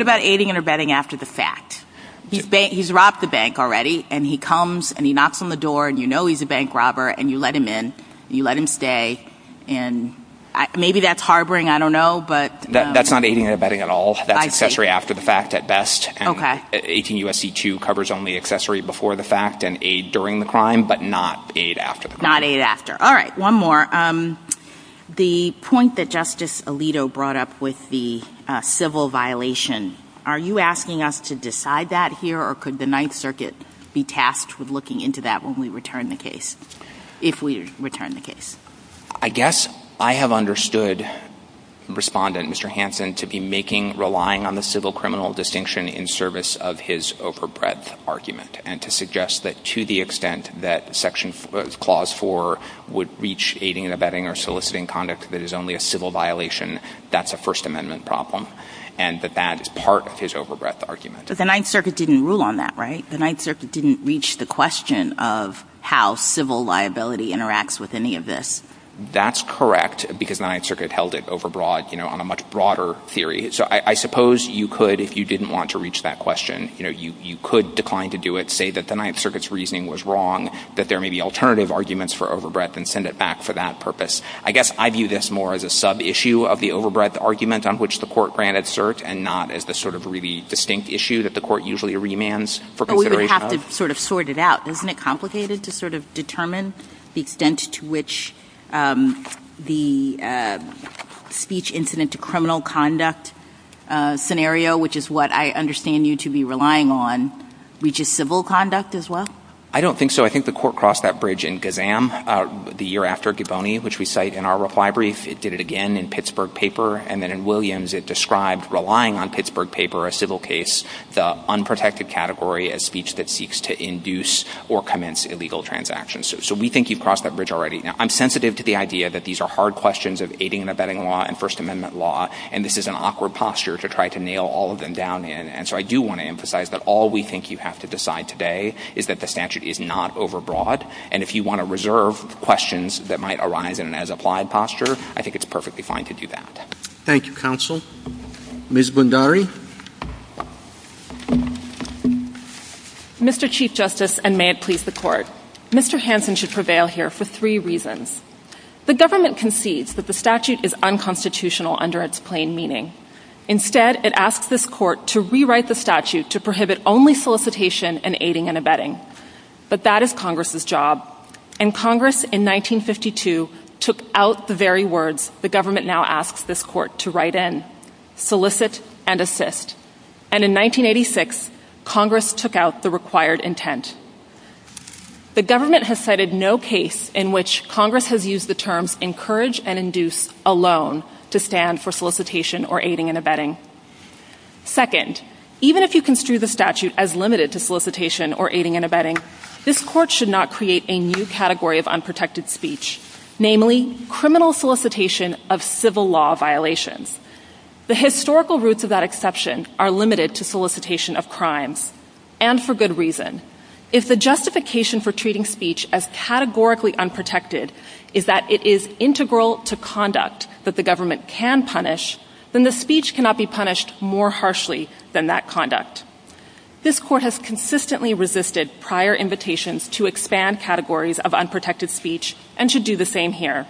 and abetting after the fact. He's robbed the bank already and he comes and he knocks on the door and you know he's a bank robber and you let him in, you let him stay. And maybe that's harboring, I don't know. That's not aiding and abetting at all, that's accessory after the fact at best. 18 U.S.C. 2 covers only accessory before the fact and aid during the crime, but not aid after. Not aid after. All right. One more. The point that Justice Alito brought up with the civil violation. Are you asking us to decide that here or could the Ninth Circuit be tasked with looking into that when we return the case? If we return the case? I guess I have understood Respondent, Mr. Hanson, to be making, relying on the civil criminal distinction in service of his overbred argument and to suggest that to the extent that Section Clause 4 would reach aiding and abetting or soliciting conduct that is only a civil violation, that's a First Amendment problem and that that is part of his overbred argument. But the Ninth Circuit didn't rule on that, right? The Ninth Circuit didn't reach the question of how civil liability interacts with any of this. That's correct, because the Ninth Circuit held it overbroad, you know, on a much broader theory. So I suppose you could, if you didn't want to reach that question, you know, you could decline to do it, say that the Ninth Circuit's reasoning was wrong, that there may be alternative arguments for overbred and send it back for that purpose. I guess I view this more as a sub-issue of the overbred argument on which the court granted cert and not as the sort of really distinct issue that the court usually remands for consideration of. But we would have to sort of sort it out. Isn't it complicated to sort of determine the extent to which the speech incident to criminal conduct scenario, which is what I understand you to be relying on, reaches civil conduct as well? I don't think so. I think the court crossed that bridge in Gazam the year after Givoni, which we cite in our reply brief. It did it again in Pittsburgh Paper. And then in Williams, it described relying on Pittsburgh Paper, a civil case, the or commence illegal transactions. So we think you've crossed that bridge already. Now, I'm sensitive to the idea that these are hard questions of aiding and abetting law and First Amendment law. And this is an awkward posture to try to nail all of them down. And so I do want to emphasize that all we think you have to decide today is that the statute is not overbroad. And if you want to reserve questions that might arise in an as-applied posture, I think it's perfectly fine to do that. Thank you, counsel. Ms. Bundari. Thank you, Mr. Chief Justice, and may it please the court, Mr. Hansen should prevail here for three reasons. The government concedes that the statute is unconstitutional under its plain meaning. Instead, it asks this court to rewrite the statute to prohibit only solicitation and aiding and abetting. But that is Congress's job. And Congress in 1952 took out the very words the government now asks this court to write in, solicit and assist. And in 1986, Congress took out the required intent. The government has cited no case in which Congress has used the terms encourage and induce alone to stand for solicitation or aiding and abetting. Second, even if you construe the statute as limited to solicitation or aiding and abetting, this court should not create a new category of unprotected speech, namely criminal solicitation of civil law violations. The historical roots of that exception are limited to solicitation of crimes and for good reason. If the justification for treating speech as categorically unprotected is that it is integral to conduct that the government can punish, then the speech cannot be punished more harshly than that conduct. This court has consistently resisted prior invitations to expand categories of unprotected speech and should do the same here.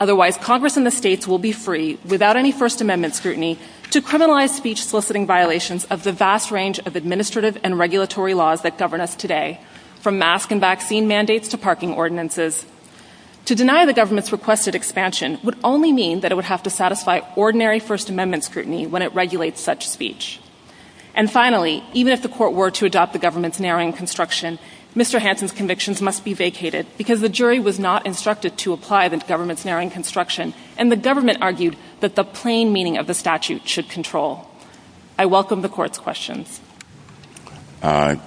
Otherwise, Congress and the states will be free without any First Amendment scrutiny to criminalize speech soliciting violations of the vast range of administrative and regulatory laws that govern us today, from mask and vaccine mandates to parking ordinances. To deny the government's requested expansion would only mean that it would have to satisfy ordinary First Amendment scrutiny when it regulates such speech. And finally, even if the court were to adopt the government's narrowing construction, Mr. Jury was not instructed to apply the government's narrowing construction, and the government argued that the plain meaning of the statute should control. I welcome the court's questions.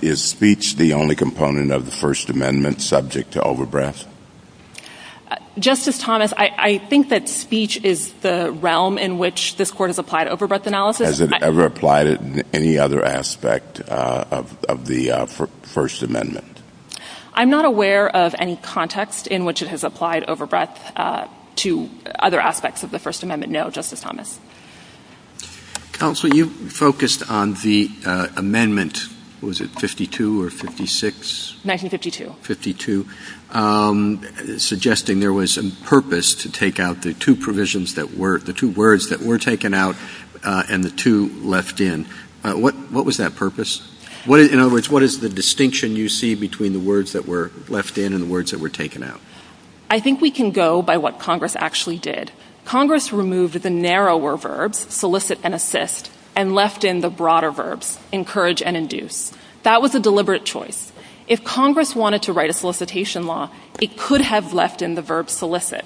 Is speech the only component of the First Amendment subject to overbreadth? Justice Thomas, I think that speech is the realm in which this court has applied overbreadth analysis. Has it ever applied in any other aspect of the First Amendment? I'm not aware of any context in which it has applied overbreadth to other aspects of the First Amendment. No, Justice Thomas. Counsel, you focused on the amendment, was it 52 or 56? 1952. 1952, suggesting there was a purpose to take out the two provisions that were, the two words that were taken out and the two left in. What was that purpose? In other words, what is the distinction you see between the words that were left in and the words that were taken out? I think we can go by what Congress actually did. Congress removed the narrower verbs, solicit and assist, and left in the broader verbs, encourage and induce. That was a deliberate choice. If Congress wanted to write a solicitation law, it could have left in the verb solicit.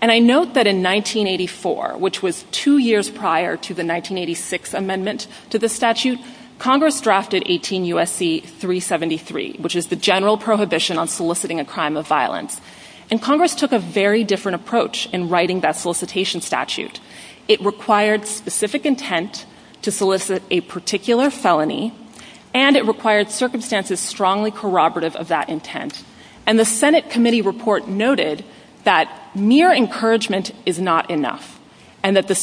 And I note that in 1984, which was two years prior to the 1986 amendment to the statute, Congress drafted 18 USC 373, which is the general prohibition on soliciting a crime of violence. And Congress took a very different approach in writing that solicitation statute. It required specific intent to solicit a particular felony, and it required circumstances strongly corroborative of that intent. And the Senate committee report noted that mere encouragement is not enough and that the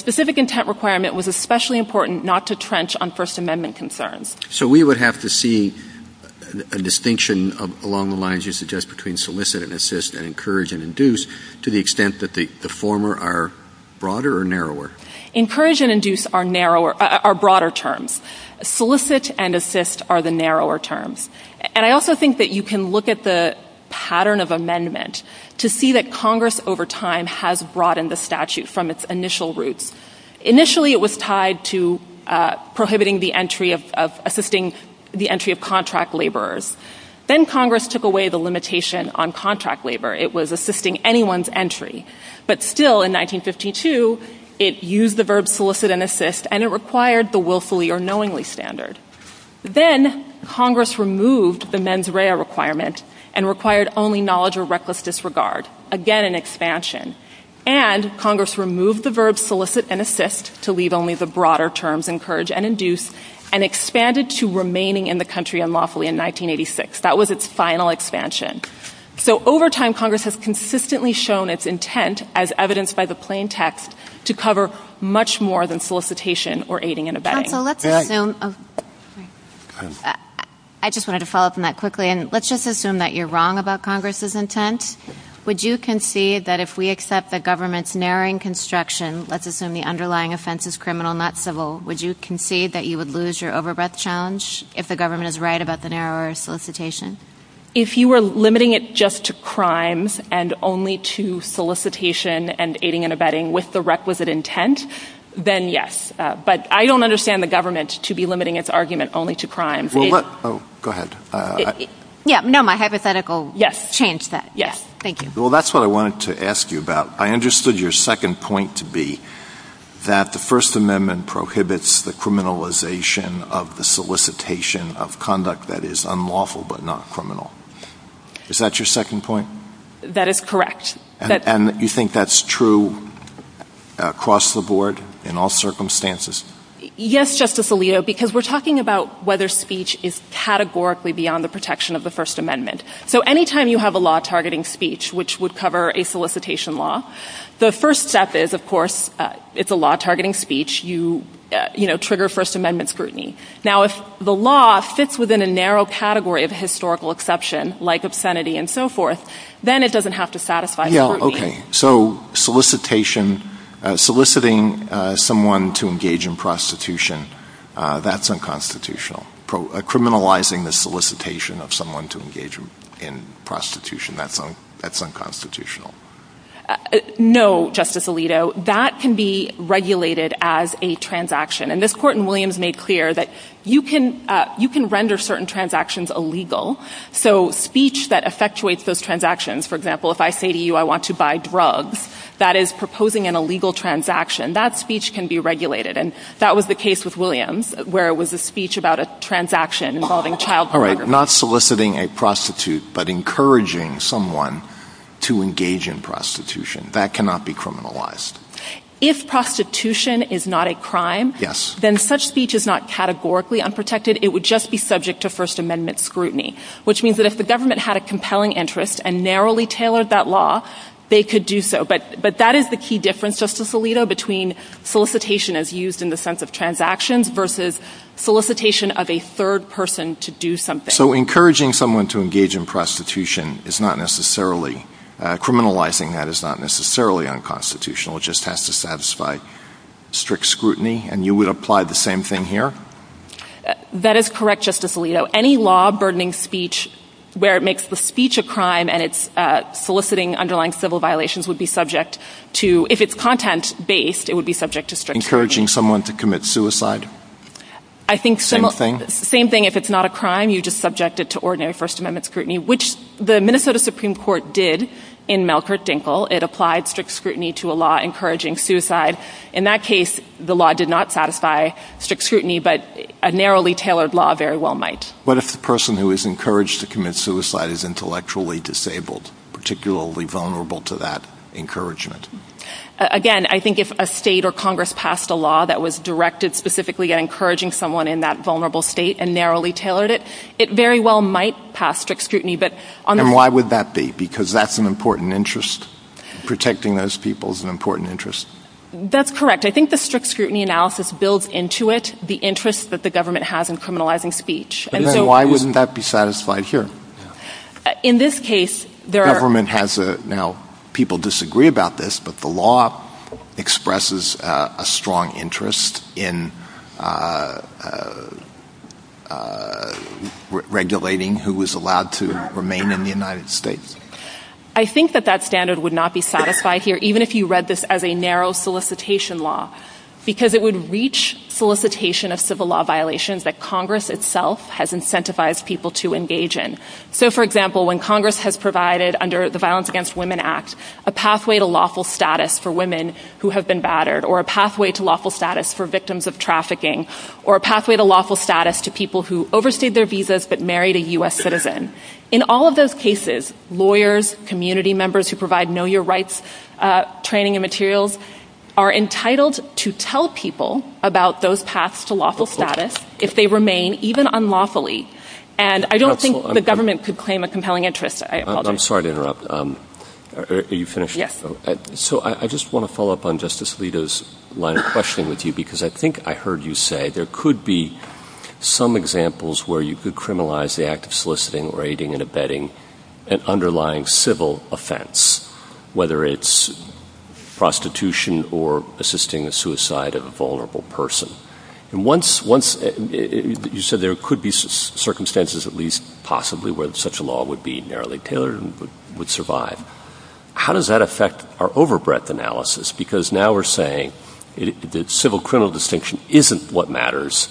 So we would have to see a distinction along the lines you suggest between solicit and assist and encourage and induce to the extent that the former are broader or narrower? Encourage and induce are broader terms. Solicit and assist are the narrower terms. And I also think that you can look at the pattern of amendment to see that Congress over time has broadened the statute from its initial roots. Initially, it was tied to prohibiting the entry of assisting the entry of contract laborers. Then Congress took away the limitation on contract labor. It was assisting anyone's entry. But still, in 1952, it used the verb solicit and assist and it required the willfully or knowingly standard. Then Congress removed the mens rea requirement and required only knowledge or reckless disregard. Again, an expansion. And Congress removed the verb solicit and assist to leave only the broader terms encourage and induce and expanded to remaining in the country unlawfully in 1986. That was its final expansion. So over time, Congress has consistently shown its intent as evidenced by the plain text to cover much more than solicitation or aiding and abetting. I just wanted to follow up on that quickly. And let's just assume that you're wrong about Congress's intent. Would you concede that if we accept the government's narrowing construction, let's assume the underlying offense is criminal, not civil. Would you concede that you would lose your overbreath challenge if the government is right about the narrower solicitation? If you were limiting it just to crimes and only to solicitation and aiding and abetting with the requisite intent, then yes. But I don't understand the government to be limiting its argument only to crime. Oh, go ahead. Yeah. No, my hypothetical. Yes. Change that. Yes. Thank you. Well, that's what I wanted to ask you about. I understood your second point to be that the First Amendment prohibits the criminalization of the solicitation of conduct that is unlawful but not criminal. Is that your second point? That is correct. And you think that's true across the board in all circumstances? Yes, Justice Alito, because we're talking about whether speech is categorically beyond the protection of the First Amendment. So anytime you have a law targeting speech, which would cover a solicitation law, the first step is, of course, it's a law targeting speech. You know, trigger First Amendment scrutiny. Now, if the law fits within a narrow category of historical exception, like obscenity and so forth, then it doesn't have to satisfy. So solicitation, soliciting someone to engage in prostitution, that's unconstitutional. Criminalizing the solicitation of someone to engage in prostitution, that's unconstitutional. No, Justice Alito, that can be regulated as a transaction. And this court in Williams made clear that you can you can render certain transactions illegal. So speech that effectuates those transactions, for example, if I say to you, I want to buy drugs that is proposing an illegal transaction, that speech can be regulated. And that was the case with Williams, where it was a speech about a transaction involving child. All right. Not soliciting a prostitute, but encouraging someone to engage in prostitution. That cannot be criminalized. If prostitution is not a crime, then such speech is not categorically unprotected. It would just be subject to First Amendment scrutiny, which means that if the government had a compelling interest and narrowly tailored that law, they could do so. But but that is the key difference, Justice Alito, between solicitation as used in the sense of transactions versus solicitation of a third person to do something. So encouraging someone to engage in prostitution is not necessarily criminalizing. That is not necessarily unconstitutional. It just has to satisfy strict scrutiny. And you would apply the same thing here. That is correct, Justice Alito. Any law burdening speech where it makes the speech a crime and it's soliciting underlying civil violations would be subject to, if it's content based, it would be subject to encouraging someone to commit suicide. I think the same thing. If it's not a crime, you just subject it to ordinary First Amendment scrutiny, which the Minnesota Supreme Court did in Melker Dinkle. It applied strict scrutiny to a law encouraging suicide. In that case, the law did not satisfy strict scrutiny, but a narrowly tailored law very well might. What if the person who is encouraged to commit suicide is intellectually disabled, particularly vulnerable to that encouragement? Again, I think if a state or Congress passed a law that was directed specifically at encouraging someone in that vulnerable state and narrowly tailored it, it very well might pass strict scrutiny. But why would that be? Because that's an important interest. Protecting those people is an important interest. That's correct. I think the strict scrutiny analysis builds into it the interest that the government has in criminalizing speech. Why wouldn't that be satisfied here? In this case, the government has now people disagree about this, but the law expresses a strong interest in regulating who is allowed to remain in the United States. I think that that standard would not be satisfied here, even if you read this as a narrow solicitation law, because it would reach solicitation of civil law violations that Congress itself has incentivized people to engage in. So, for example, when Congress has provided under the Violence Against Women Act, a pathway to lawful status for women who have been battered or a pathway to lawful status for victims of trafficking or a pathway to lawful status to people who overstayed their visas but married a U.S. citizen. In all of those cases, lawyers, community members who provide Know Your Rights training and materials are entitled to tell people about those paths to lawful status if they remain even unlawfully. And I don't think the government could claim a compelling interest. I'm sorry to interrupt. Are you finished? So I just want to follow up on Justice Alito's line of questioning with you, because I think I heard you say there could be some examples where you could criminalize the act of soliciting, raiding and abetting an underlying civil offense, whether it's prostitution or assisting the suicide of a vulnerable person. And once you said there could be circumstances, at least possibly, where such a law would be narrowly tailored and would survive. How does that affect our overbreadth analysis? Because now we're saying that civil criminal distinction isn't what matters.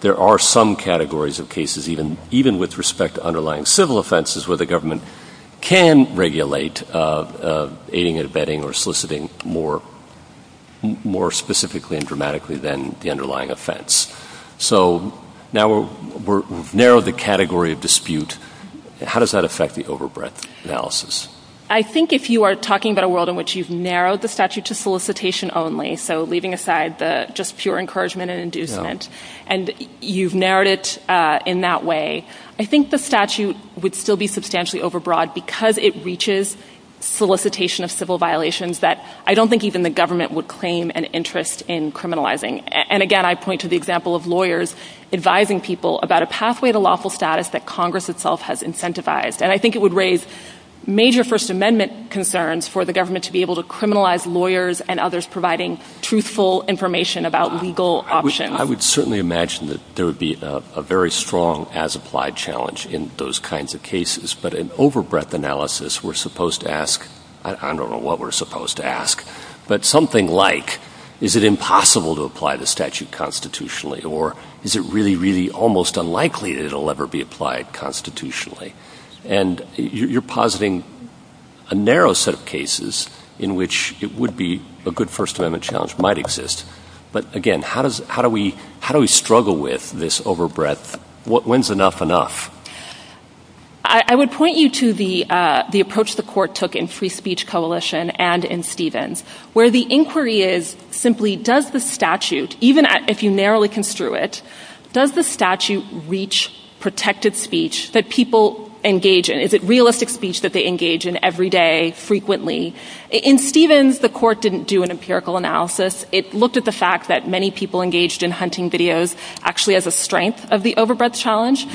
There are some categories of cases, even with respect to underlying civil offenses, where the government can regulate aiding and abetting or soliciting more specifically and dramatically than the underlying offense. So now we've narrowed the category of dispute. How does that affect the overbreadth analysis? I think if you are talking about a world in which you've narrowed the statute to solicitation only, so leaving aside the just pure encouragement and inducement, and you've narrowed it in that way, I think the statute would still be substantially overbroad because it reaches solicitation of civil violations that I don't think even the government would claim an interest in criminalizing. And again, I point to the example of lawyers advising people about a pathway to lawful status that Congress itself has incentivized. And I think it would raise major First Amendment concerns for the government to be able to criminalize lawyers and others providing truthful information about legal options. I would certainly imagine that there would be a very strong as applied challenge in those kinds of cases. But in overbreadth analysis, we're supposed to ask, I don't know what we're supposed to ask, but something like, is it impossible to apply the statute constitutionally or is it really, really almost unlikely that it'll ever be applied constitutionally? And you're positing a narrow set of cases in which it would be a good First Amendment challenge might exist. But again, how does how do we how do we struggle with this overbreadth? When's enough enough? I would point you to the the approach the court took in Free Speech Coalition and in Stevens, where the inquiry is simply does the statute, even if you narrowly construe it, does the statute reach protected speech that people engage in? Is it realistic speech that they engage in every day, frequently? In Stevens, the court didn't do an empirical analysis. It looked at the fact that many people engaged in hunting videos actually as a strength of the overbreadth challenge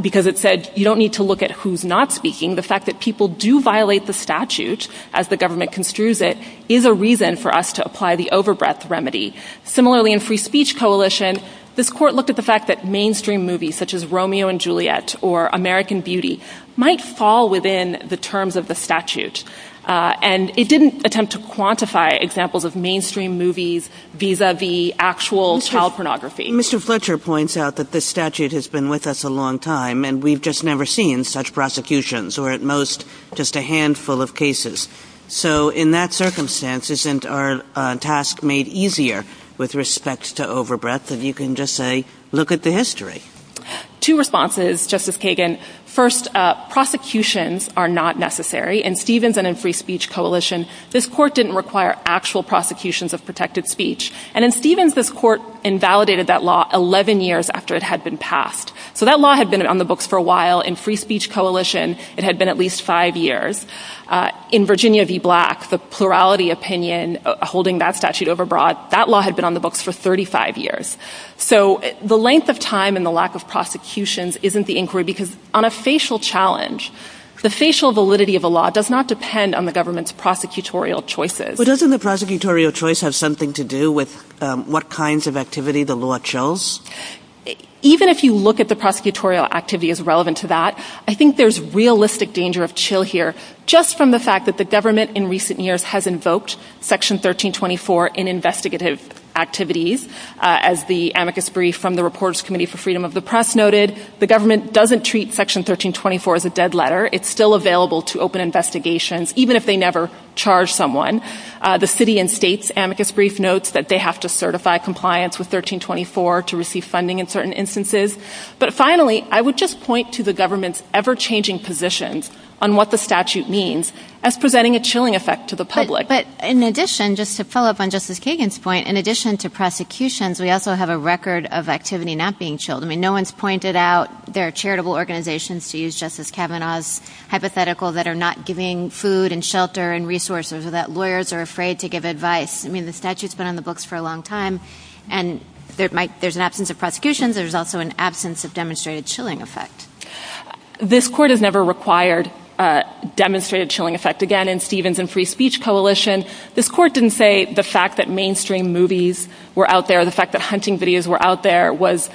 because it said you don't need to look at who's not speaking. The fact that people do violate the statute as the government construes it is a reason for us to apply the overbreadth remedy. Similarly, in Free Speech Coalition, this court looked at the fact that mainstream movies such as Romeo and Juliet or American Beauty might fall within the terms of the statute. And it didn't attempt to quantify examples of mainstream movies vis-a-vis actual child pornography. Mr. Fletcher points out that the statute has been with us a long time and we've just never seen such prosecutions or at most just a handful of cases. So in that circumstance, isn't our task made easier with respect to overbreadth? And you can just say, look at the history. Two responses, Justice Kagan. First, prosecutions are not necessary. In Stevens and in Free Speech Coalition, this court didn't require actual prosecutions of protected speech. And in Stevens, this court invalidated that law 11 years after it had been passed. So that law had been on the books for a while. In Free Speech Coalition, it had been at least five years. In Virginia v. Black, the plurality opinion holding that statute overbroad, that law had been on the books for 35 years. So the length of time and the lack of prosecutions isn't the inquiry because on a facial challenge, the facial validity of the law does not depend on the government's prosecutorial choices. But doesn't the prosecutorial choice have something to do with what kinds of activity the government is involved in? Even if you look at the prosecutorial activity as relevant to that, I think there's realistic danger of chill here just from the fact that the government in recent years has invoked Section 1324 in investigative activities. As the amicus brief from the Reporters Committee for Freedom of the Press noted, the government doesn't treat Section 1324 as a dead letter. It's still available to open investigations, even if they never charge someone. The city and state's amicus brief notes that they have to certify compliance with 1324 to receive funding in certain instances. But finally, I would just point to the government's ever-changing positions on what the statute means as presenting a chilling effect to the public. But in addition, just to follow up on Justice Kagan's point, in addition to prosecutions, we also have a record of activity not being chilled. I mean, no one's pointed out there are charitable organizations, to use Justice Kavanaugh's hypothetical, that are not giving food and shelter and resources or that lawyers are afraid to give advice. I mean, the statute's been on the books for a long time, and there's an absence of prosecutions. There's also an absence of demonstrated chilling effect. This court has never required a demonstrated chilling effect. Again, in Stevens and Free Speech Coalition, this court didn't say the fact that mainstream movies were out there, the fact that hunting videos were out there, was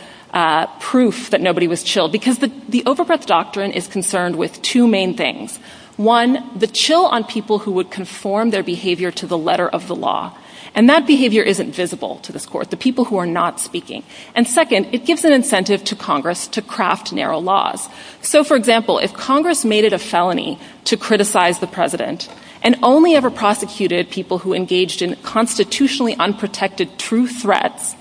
proof that nobody was chilled. Because the overpress doctrine is concerned with two main things. One, the chill on people who would conform their behavior to the letter of the law. And that behavior isn't visible to this court, the people who are not speaking. And second, it gives an incentive to Congress to craft narrow laws. So, for example, if Congress made it a felony to criticize the president and only ever prosecuted people who engaged in constitutionally unprotected true threats,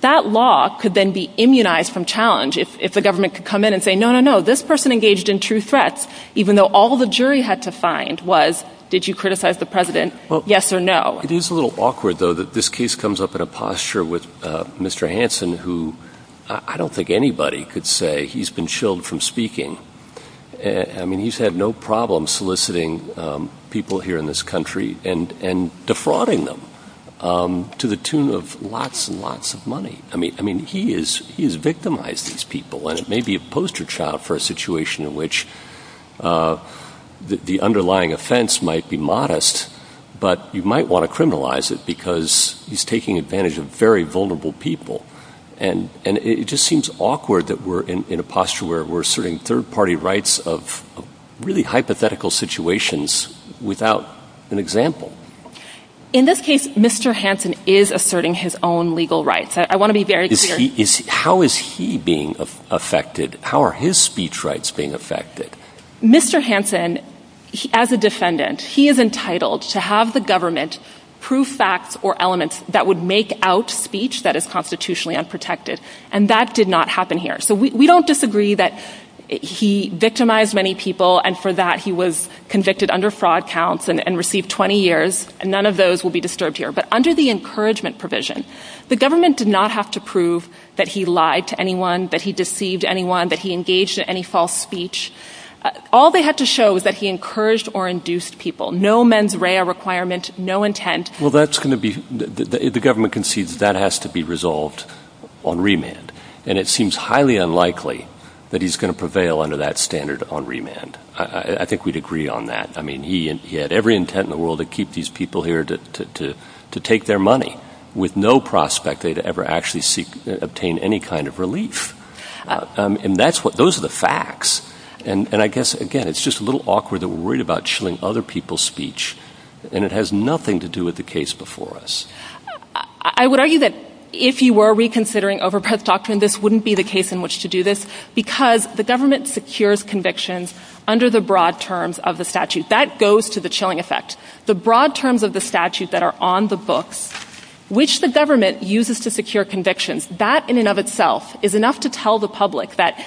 that law could then be immunized from challenge if the government could come in and say, no, no, no, this person engaged in true threats, even though all the jury had to find was, did you criticize the president? Yes or no? It is a little awkward, though, that this case comes up in a posture with Mr. Hansen, who I don't think anybody could say he's been chilled from speaking. And I mean, he's had no problem soliciting people here in this country and defrauding them to the tune of lots and lots of money. I mean, I mean, he is he's victimized these people. And it may be a poster child for a situation in which the underlying offense might be criminalized because he's taking advantage of very vulnerable people. And it just seems awkward that we're in a posture where we're asserting third party rights of really hypothetical situations without an example. In this case, Mr. Hansen is asserting his own legal rights. I want to be very clear, how is he being affected? How are his speech rights being affected? Mr. Hansen, as a defendant, he is entitled to have the government prove facts or elements that would make out speech that is constitutionally unprotected. And that did not happen here. So we don't disagree that he victimized many people and for that he was convicted under fraud counts and received 20 years. And none of those will be disturbed here. But under the encouragement provision, the government did not have to prove that he lied to anyone, that he deceived anyone, that he engaged in any false speech. All they had to show was that he encouraged or induced people. No mens rea requirement, no intent. Well, that's going to be the government concedes that has to be resolved on remand. And it seems highly unlikely that he's going to prevail under that standard on remand. I think we'd agree on that. I mean, he and he had every intent in the world to keep these people here to to to take their money with no prospect they'd ever actually seek to obtain any kind of relief. And that's what those are the facts. And I guess, again, it's just a little awkward that we're worried about chilling other people's speech and it has nothing to do with the case before us. I would argue that if you were reconsidering overpriced doctrine, this wouldn't be the case in which to do this because the government secures convictions under the broad terms of the statute that goes to the chilling effect. The broad terms of the statutes that are on the books, which the government uses to secure convictions, that in and of itself is enough to tell the public that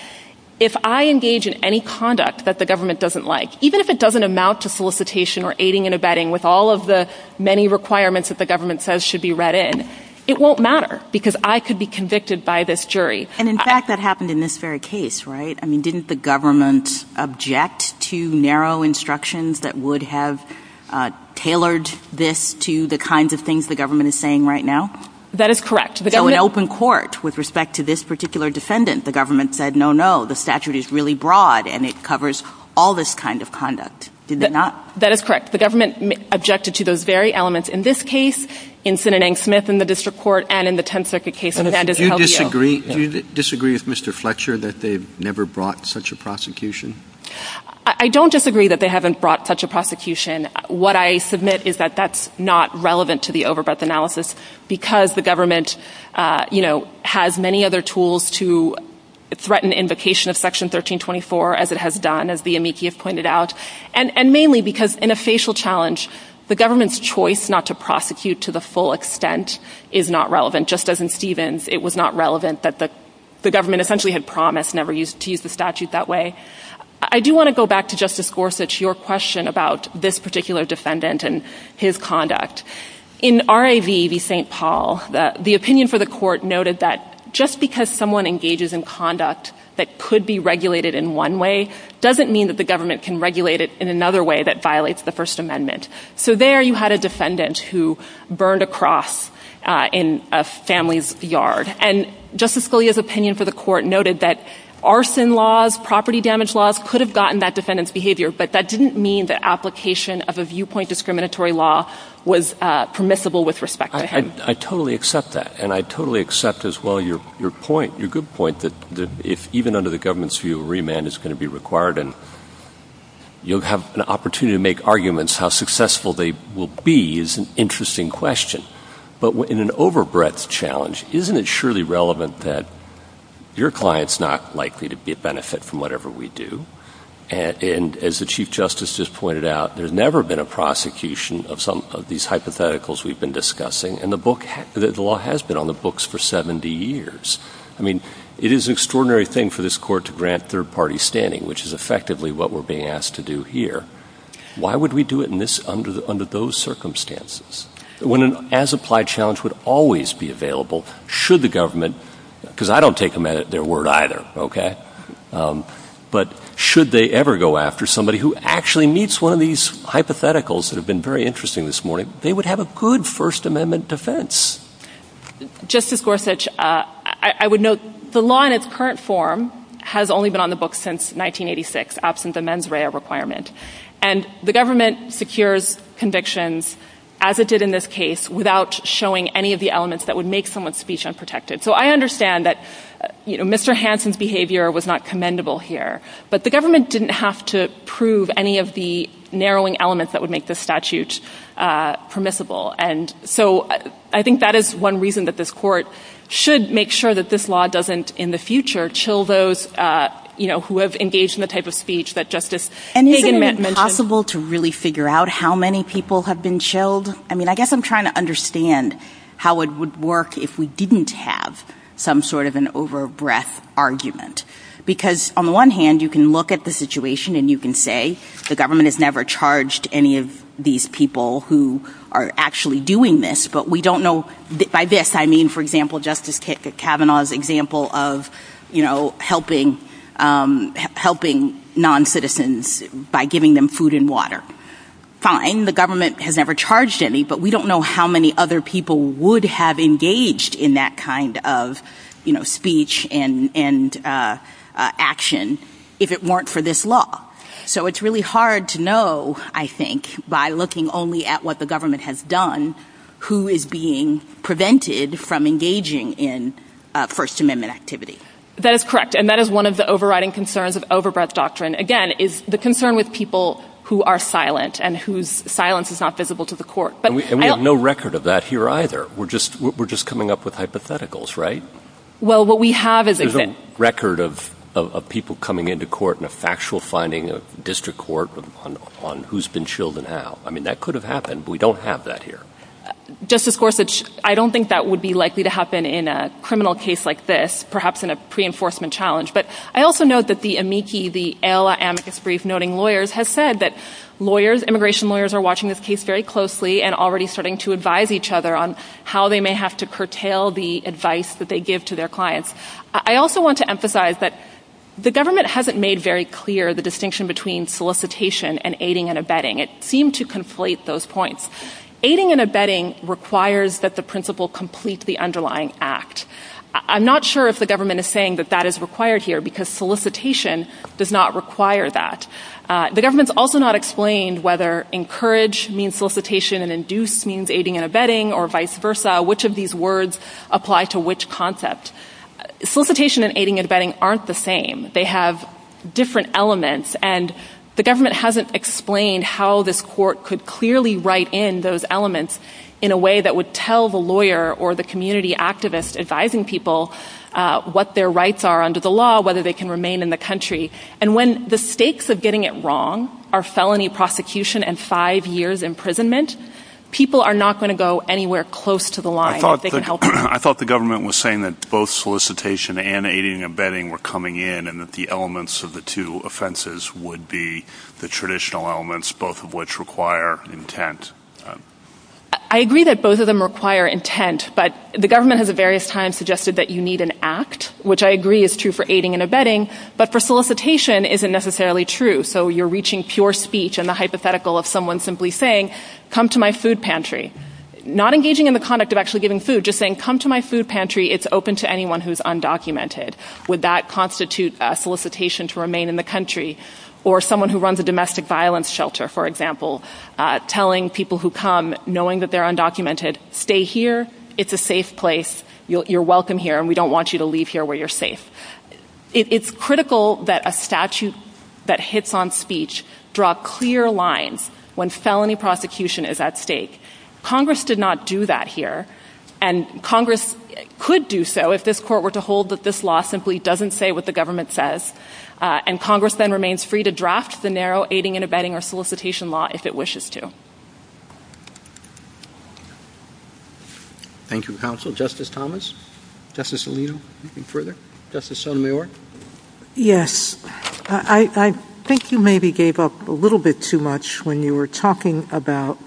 if I engage in any conduct that the government doesn't like, even if it doesn't amount to solicitation or aiding and abetting with all of the many requirements that the government says should be read in, it won't matter because I could be convicted by this jury. And in fact, that happened in this very case. Right. I mean, didn't the government object to narrow instructions that would have tailored this to the kinds of things the government is saying right now? That is correct. The government opened court with respect to this particular defendant. The government said, no, no, the statute is really broad and it covers all this kind of conduct. That is correct. The government objected to those very elements in this case, in Sinanang Smith, in the district court and in the 10th Circuit case. Do you disagree with Mr. Fletcher that they've never brought such a prosecution? I don't disagree that they haven't brought such a prosecution. What I submit is that that's not relevant to the overbreadth analysis because the government is not going to threaten invocation of Section 1324 as it has done, as the amici have pointed out, and mainly because in a facial challenge, the government's choice not to prosecute to the full extent is not relevant. Just as in Stevens, it was not relevant that the government essentially had promised never to use the statute that way. I do want to go back to Justice Gorsuch, your question about this particular defendant and his conduct. In R.A.V., the St. Paul, the opinion for the court noted that just because someone engages in conduct that could be regulated in one way, doesn't mean that the government can regulate it in another way that violates the First Amendment. So there you had a defendant who burned a cross in a family's yard. And Justice Scalia's opinion for the court noted that arson laws, property damage laws could have gotten that defendant's behavior. But that didn't mean the application of a viewpoint discriminatory law was permissible with respect to him. I totally accept that. And I totally accept as well your point. Your good point that if even under the government's view, remand is going to be required and you'll have an opportunity to make arguments how successful they will be is an interesting question. But in an overbreadth challenge, isn't it surely relevant that your client's not likely to get benefit from whatever we do? And as the Chief Justice just pointed out, there's never been a prosecution of some of these hypotheticals we've been discussing. And the book, the law has been on the books for 70 years. I mean, it is an extraordinary thing for this court to grant third party standing, which is effectively what we're being asked to do here. Why would we do it in this under the under those circumstances when an as applied challenge would always be available? Should the government, because I don't take them at their word either, OK, but should they ever go after somebody who actually meets one of these hypotheticals that have been very interesting this morning, they would have a good First Amendment defense. Justice Gorsuch, I would note the law in its current form has only been on the books since 1986, absent the mens rea requirement, and the government secures convictions as it did in this case without showing any of the elements that would make someone's speech unprotected. So I understand that Mr. Hansen's behavior was not commendable here, but the government didn't have to prove any of the narrowing elements that would make the statute permissible. And so I think that is one reason that this court should make sure that this law doesn't in the future chill those who have engaged in the type of speech that Justice And is it possible to really figure out how many people have been chilled? I mean, I guess I'm trying to understand how it would work if we didn't have some sort of an over breadth argument, because on the one hand, you can look at the situation and you can say the government has never charged any of these people who are actually doing this. But we don't know by this. I mean, for example, Justice Kavanaugh's example of, you know, helping helping noncitizens by giving them food and water. Fine. The government has never charged any, but we don't know how many other people would have engaged in that kind of speech and action if it weren't for this law. So it's really hard to know, I think, by looking only at what the government has done, who is being prevented from engaging in First Amendment activity. That is correct. And that is one of the overriding concerns of over breadth doctrine, again, is the concern with people who are silent and whose silence is not visible to the court. But we have no record of that here either. We're just we're just coming up with hypotheticals. Right. Well, what we have is a record of of people coming into court and a factual finding of district court on who's been chilled and how. I mean, that could have happened. We don't have that here. Justice Gorsuch, I don't think that would be likely to happen in a criminal case like this, perhaps in a pre enforcement challenge. But I also note that the amici, the amicus brief, noting lawyers have said that lawyers, immigration lawyers are watching this case very closely and already starting to advise each other on how they may have to curtail the advice that they give to their clients. I also want to emphasize that the government hasn't made very clear the distinction between solicitation and aiding and abetting. It seemed to conflate those points. Aiding and abetting requires that the principal complete the underlying act. I'm not sure if the government is saying that that is required here because solicitation does not require that. The government's also not explained whether encourage means solicitation and induce means aiding and abetting or vice versa, which of these words apply to which concept. Solicitation and aiding and abetting aren't the same. They have different elements and the government hasn't explained how this court could clearly write in those elements in a way that would tell the lawyer or the community activist advising people what their rights are under the law, whether they can remain in the country. And when the stakes of getting it wrong are felony prosecution and five years imprisonment, people are not going to go anywhere close to the line. I thought the government was saying that both solicitation and aiding and abetting were coming in and that the elements of the two offenses would be the traditional elements, both of which require intent. I agree that both of them require intent, but the government has at various times suggested that you need an act, which I agree is true for aiding and abetting, but for solicitation isn't necessarily true. So you're reaching pure speech and the hypothetical of someone simply saying, come to my food pantry, not engaging in the conduct of actually giving food, just saying, come to my food pantry. It's open to anyone who's undocumented. Would that constitute a solicitation to remain in the country or someone who runs a domestic violence shelter, for example, telling people who come knowing that they're undocumented, stay here, it's a safe place, you're welcome here and we don't want you to leave here where you're safe. It's critical that a statute that hits on speech draw clear lines when felony prosecution is at stake. Congress did not do that here. And Congress could do so if this court were to hold that this law simply doesn't say what the government says. And Congress then remains free to draft the narrow aiding and abetting or solicitation law if it wishes to. Thank you, counsel. Justice Thomas, Justice Alito, anything further? Justice Sotomayor? Yes, I think you maybe gave up a little bit too much when you were talking about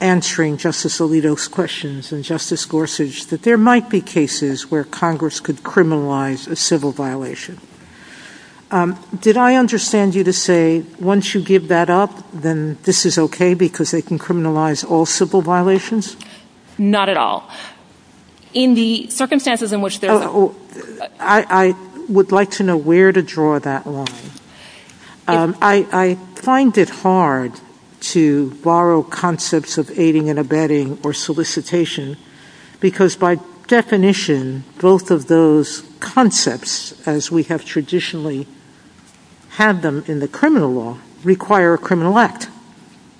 answering Justice Alito's questions and Justice Gorsuch, that there might be cases where Congress could criminalize a civil violation. Did I understand you to say once you give that up, then this is OK because they can criminalize all civil violations? Not at all. In the circumstances in which they are. I would like to know where to draw that line. I find it hard to borrow concepts of aiding and abetting or solicitation because by definition, both of those concepts, as we have traditionally had them in the criminal law, require a criminal act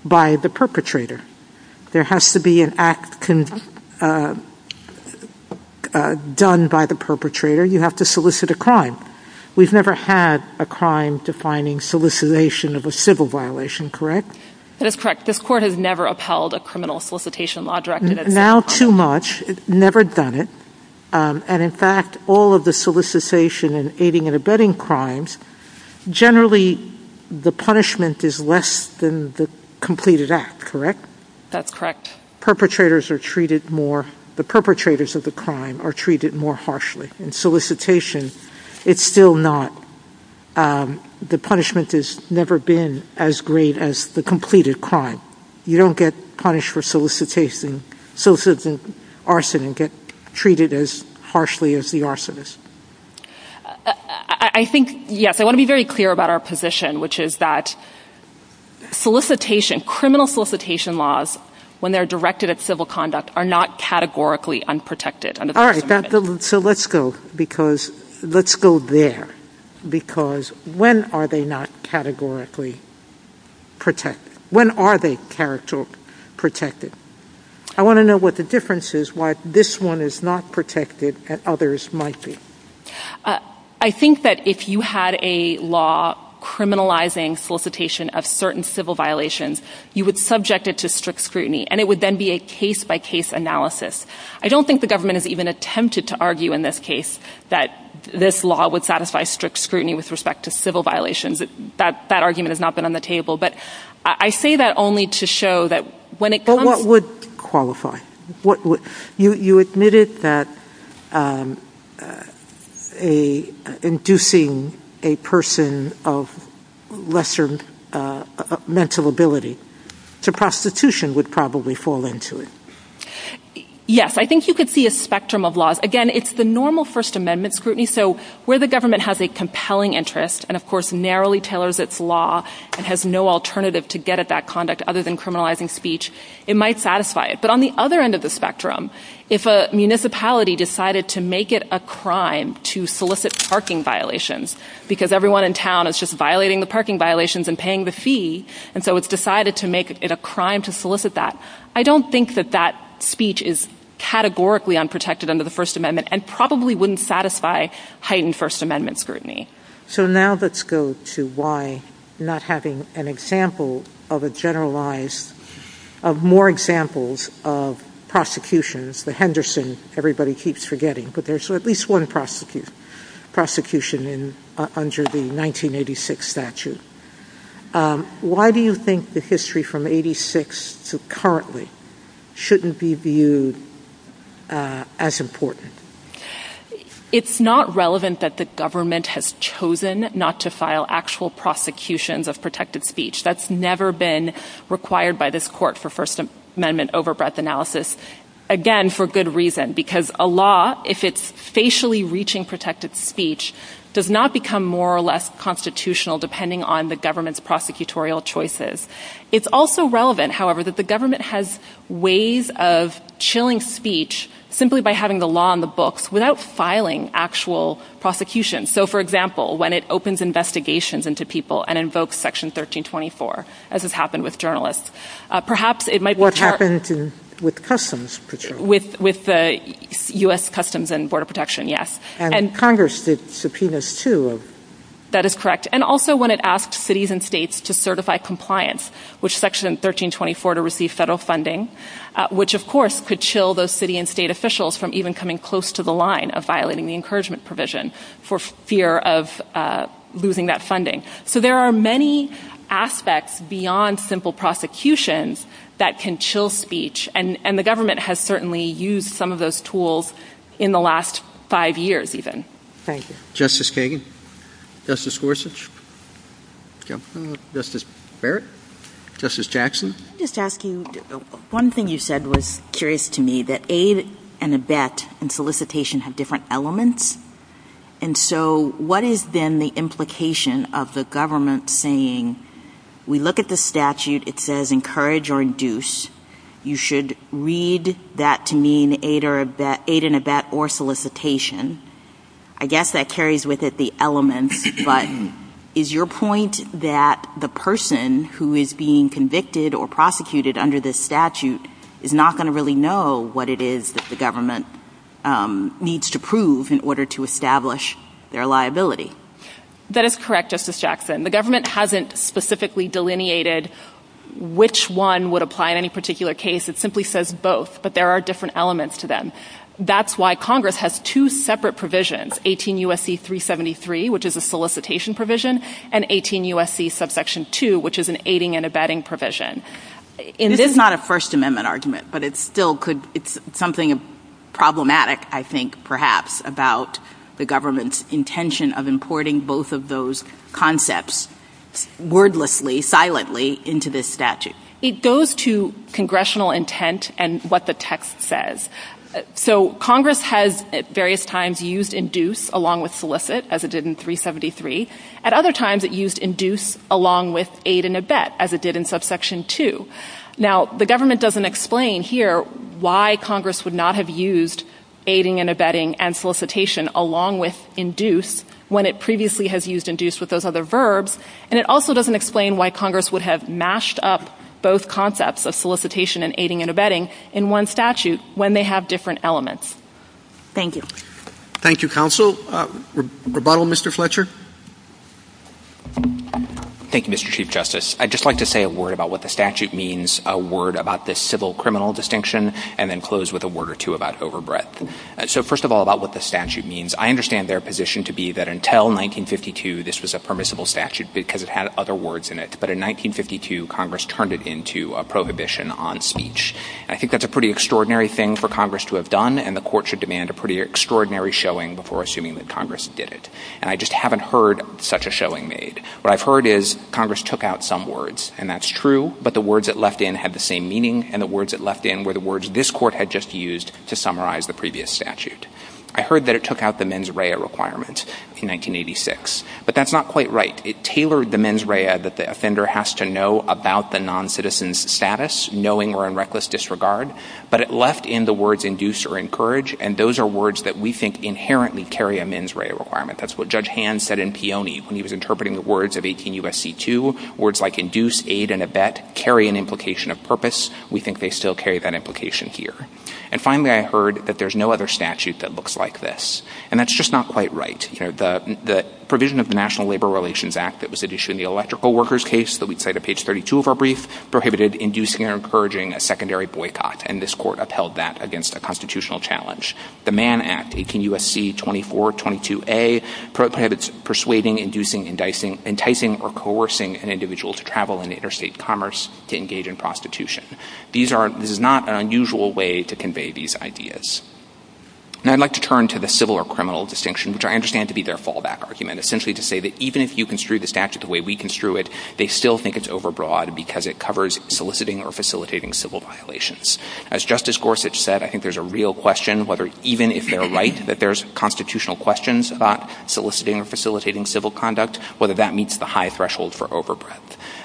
by the perpetrator. There has to be an act done by the perpetrator. You have to solicit a crime. We've never had a crime defining solicitation of a civil violation, correct? That's correct. This court has never upheld a criminal solicitation law directive. Now, too much. Never done it. And in fact, all of the solicitation and aiding and abetting crimes, generally the punishment is less than the completed act, correct? That's correct. Perpetrators are treated more. The perpetrators of the crime are treated more harshly in solicitation. It's still not. The punishment has never been as great as the completed crime. You don't get punished for solicitation, soliciting arson and get treated as harshly as the arsonist. I think, yes, I want to be very clear about our position, which is that solicitation, criminal solicitation laws, when they're directed at civil conduct, are not categorically unprotected. So let's go because let's go there, because when are they not categorically protected? When are they protected? I want to know what the difference is, why this one is not protected and others might be. I think that if you had a law criminalizing solicitation of certain civil violations, you would subject it to strict scrutiny and it would then be a case by case analysis. I don't think the government has even attempted to argue in this case that this law would satisfy strict scrutiny with respect to civil violations. That argument has not been on the table. But I say that only to show that when it would qualify, what you admitted that inducing a person of lesser mental ability to prostitution would probably fall into it. Yes, I think you could see a spectrum of laws. Again, it's the normal First Amendment scrutiny. So where the government has a compelling interest and, of course, narrowly tailors its law and has no alternative to get at that conduct other than criminalizing speech, it might satisfy it. But on the other end of the spectrum, if a municipality decided to make it a crime to solicit parking violations because everyone in town is just violating the parking violations and paying the fee, and so it's decided to make it a crime to solicit that, I don't think that that speech is categorically unprotected under the First Amendment and probably wouldn't satisfy heightened First Amendment scrutiny. So now let's go to why not having an example of a generalized, of more So at least one prosecution under the 1986 statute. Why do you think the history from 86 to currently shouldn't be viewed as important? It's not relevant that the government has chosen not to file actual prosecutions of protected speech. That's never been required by this court for First Amendment overbreadth analysis. Again, for good reason, because a law, if it's facially reaching protected speech, does not become more or less constitutional depending on the government's prosecutorial choices. It's also relevant, however, that the government has ways of chilling speech simply by having the law on the books without filing actual prosecution. So, for example, when it opens investigations into people and invokes Section 1324, as happened with Customs. With the U.S. Customs and Border Protection. Yes. And Congress did subpoenas, too. That is correct. And also when it asked cities and states to certify compliance, which Section 1324 to receive federal funding, which, of course, could chill those city and state officials from even coming close to the line of violating the encouragement provision for fear of losing that funding. So there are many aspects beyond simple prosecutions that can chill speech. And the government has certainly used some of those tools in the last five years, even. Thank you. Justice Kagan, Justice Gorsuch, Justice Barrett, Justice Jackson. Just asking, one thing you said was curious to me, that aid and abet and solicitation have different elements. And so what is, then, the implication of the government saying, we look at the statute, it says encourage or induce, you should read that to mean aid and abet or solicitation. I guess that carries with it the element, but is your point that the person who is being convicted or prosecuted under this statute is not going to really know what it is that the government needs to prove in order to establish their liability? That is correct, Justice Jackson. The government hasn't specifically delineated which one would apply in any particular case. It simply says both, but there are different elements to them. That's why Congress has two separate provisions, 18 U.S.C. 373, which is a solicitation provision, and 18 U.S.C. subsection 2, which is an aiding and abetting provision. It is not a First Amendment argument, but it's something problematic, I think, perhaps, about the government's intention of importing both of those concepts wordlessly, silently, into this statute. It goes to congressional intent and what the text says. So Congress has, at various times, used induce along with solicit, as it did in 373. At other times, it used induce along with aid and abet, as it did in subsection 2. Now, the government doesn't explain here why Congress would not have used aiding and abetting and solicitation along with induce when it previously has used induce with those other verbs, and it also doesn't explain why Congress would have mashed up both concepts of solicitation and aiding and abetting in one statute when they have different elements. Thank you. Thank you, counsel. Rebuttal, Mr. Fletcher? Thank you, Mr. Chief Justice. I'd just like to say a word about what the statute means, a word about this civil-criminal distinction, and then close with a word or two about overbreadth. So first of all, about what the statute means, I understand their position to be that until 1952, this was a permissible statute because it had other words in it, but in 1952, Congress turned it into a prohibition on speech. I think that's a pretty extraordinary thing for Congress to have done, and the court should demand a pretty extraordinary showing before assuming that Congress did it. And I just haven't heard such a showing made. What I've heard is Congress took out some words, and that's true, but the words it left in had the same meaning, and the words it left in were the words this court had just used to summarize the previous statute. I heard that it took out the mens rea requirement in 1986, but that's not quite right. It tailored the mens rea that the offender has to know about the noncitizen's status, knowing or in reckless disregard, but it left in the words induce or encourage, and those are words that we think inherently carry a mens rea requirement. That's what Judge Hand said in Peone when he was interpreting the words of 18 U.S.C. 2, words like induce, aid, and abet carry an implication of purpose. We think they still carry that implication here. And finally, I heard that there's no other statute that looks like this, and that's just not quite right. You know, the provision of the National Labor Relations Act that was at issue in the electrical workers case that we'd cite at page 32 of our brief prohibited inducing or encouraging a secondary boycott, and this court upheld that against a constitutional challenge. The Mann Act, 18 U.S.C. 2422A, prohibits persuading, inducing, enticing, or coercing an individual to travel in interstate commerce to engage in prostitution. These are, this is not an unusual way to convey these ideas. Now I'd like to turn to the civil or criminal distinction, which I understand to be their fallback argument, essentially to say that even if you construe the statute the way we construe it, they still think it's overbroad because it covers soliciting or facilitating civil violations. As Justice Gorsuch said, I think there's a real question whether even if they're right that there's constitutional questions about soliciting or facilitating civil conduct, whether that meets the high threshold for overbroad.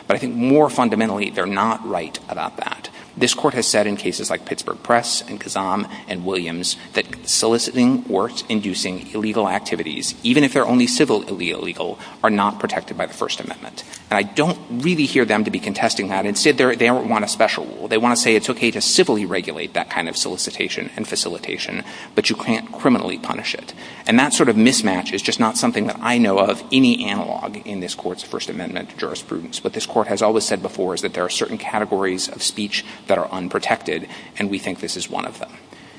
But I think more fundamentally, they're not right about that. This court has said in cases like Pittsburgh Press and Kazam and Williams that soliciting or inducing illegal activities, even if they're only civilly illegal, are not protected by the First Amendment. And I don't really hear them to be contesting that and said they don't want a special rule. They want to say it's okay to civilly regulate that kind of solicitation and facilitation, but you can't criminally punish it. And that sort of mismatch is just not something that I know of any analog in this court's First Amendment jurisprudence. What this court has always said before is that there are certain categories of speech that are unprotected, and we think this is one of them.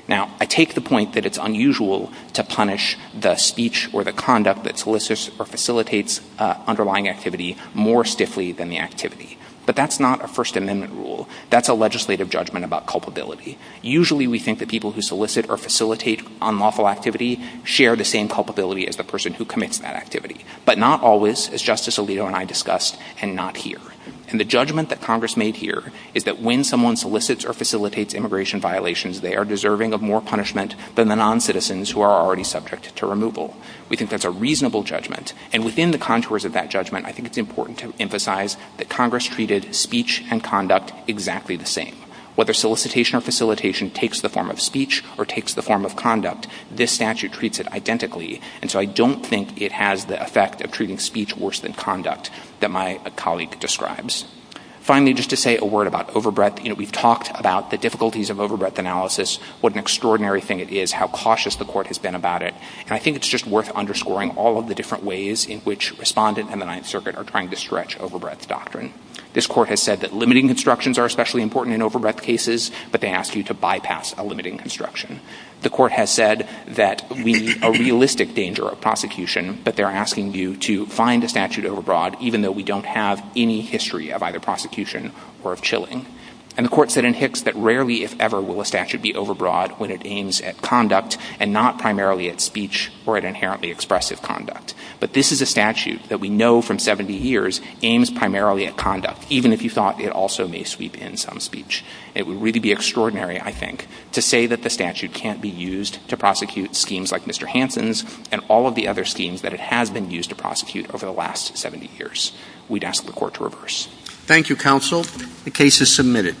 Now I take the point that it's unusual to punish the speech or the conduct that solicits or facilitates underlying activity more stiffly than the activity. But that's not a First Amendment rule. That's a legislative judgment about culpability. Usually we think that people who solicit or facilitate unlawful activity share the same culpability as the person who commits that activity. But not always, as Justice Alito and I discussed, and not here. And the judgment that Congress made here is that when someone solicits or facilitates immigration violations, they are deserving of more punishment than the noncitizens who are already subject to removal. We think that's a reasonable judgment. And within the contours of that judgment, I think it's important to emphasize that Congress treated speech and conduct exactly the same. Whether solicitation or facilitation takes the form of speech or takes the form of conduct, this statute treats it identically. And so I don't think it has the effect of treating speech worse than conduct that my colleague describes. Finally, just to say a word about overbreadth, you know, we've talked about the difficulties of overbreadth analysis, what an extraordinary thing it is, how cautious the court has been about it. And I think it's just worth underscoring all of the different ways in which Respondent and the Ninth Circuit are trying to stretch overbreadth doctrine. This court has said that limiting constructions are especially important in overbreadth cases, but they ask you to bypass a limiting construction. The court has said that we are realistic danger of prosecution, but they're asking you to find a statute overbroad, even though we don't have any history of either prosecution or of chilling. And the court said in Hicks that rarely, if ever, will a statute be overbroad when it aims at conduct and not primarily at speech or at inherently expressive conduct. But this is a statute that we know from 70 years aims primarily at conduct, even if you thought it also may sweep in some speech. It would really be extraordinary, I think, to say that the statute can't be used to prosecute schemes like Mr. Hansen's and all of the other schemes that it has been used to prosecute over the last 70 years. We'd ask the court to reverse. Thank you, counsel. The case is submitted.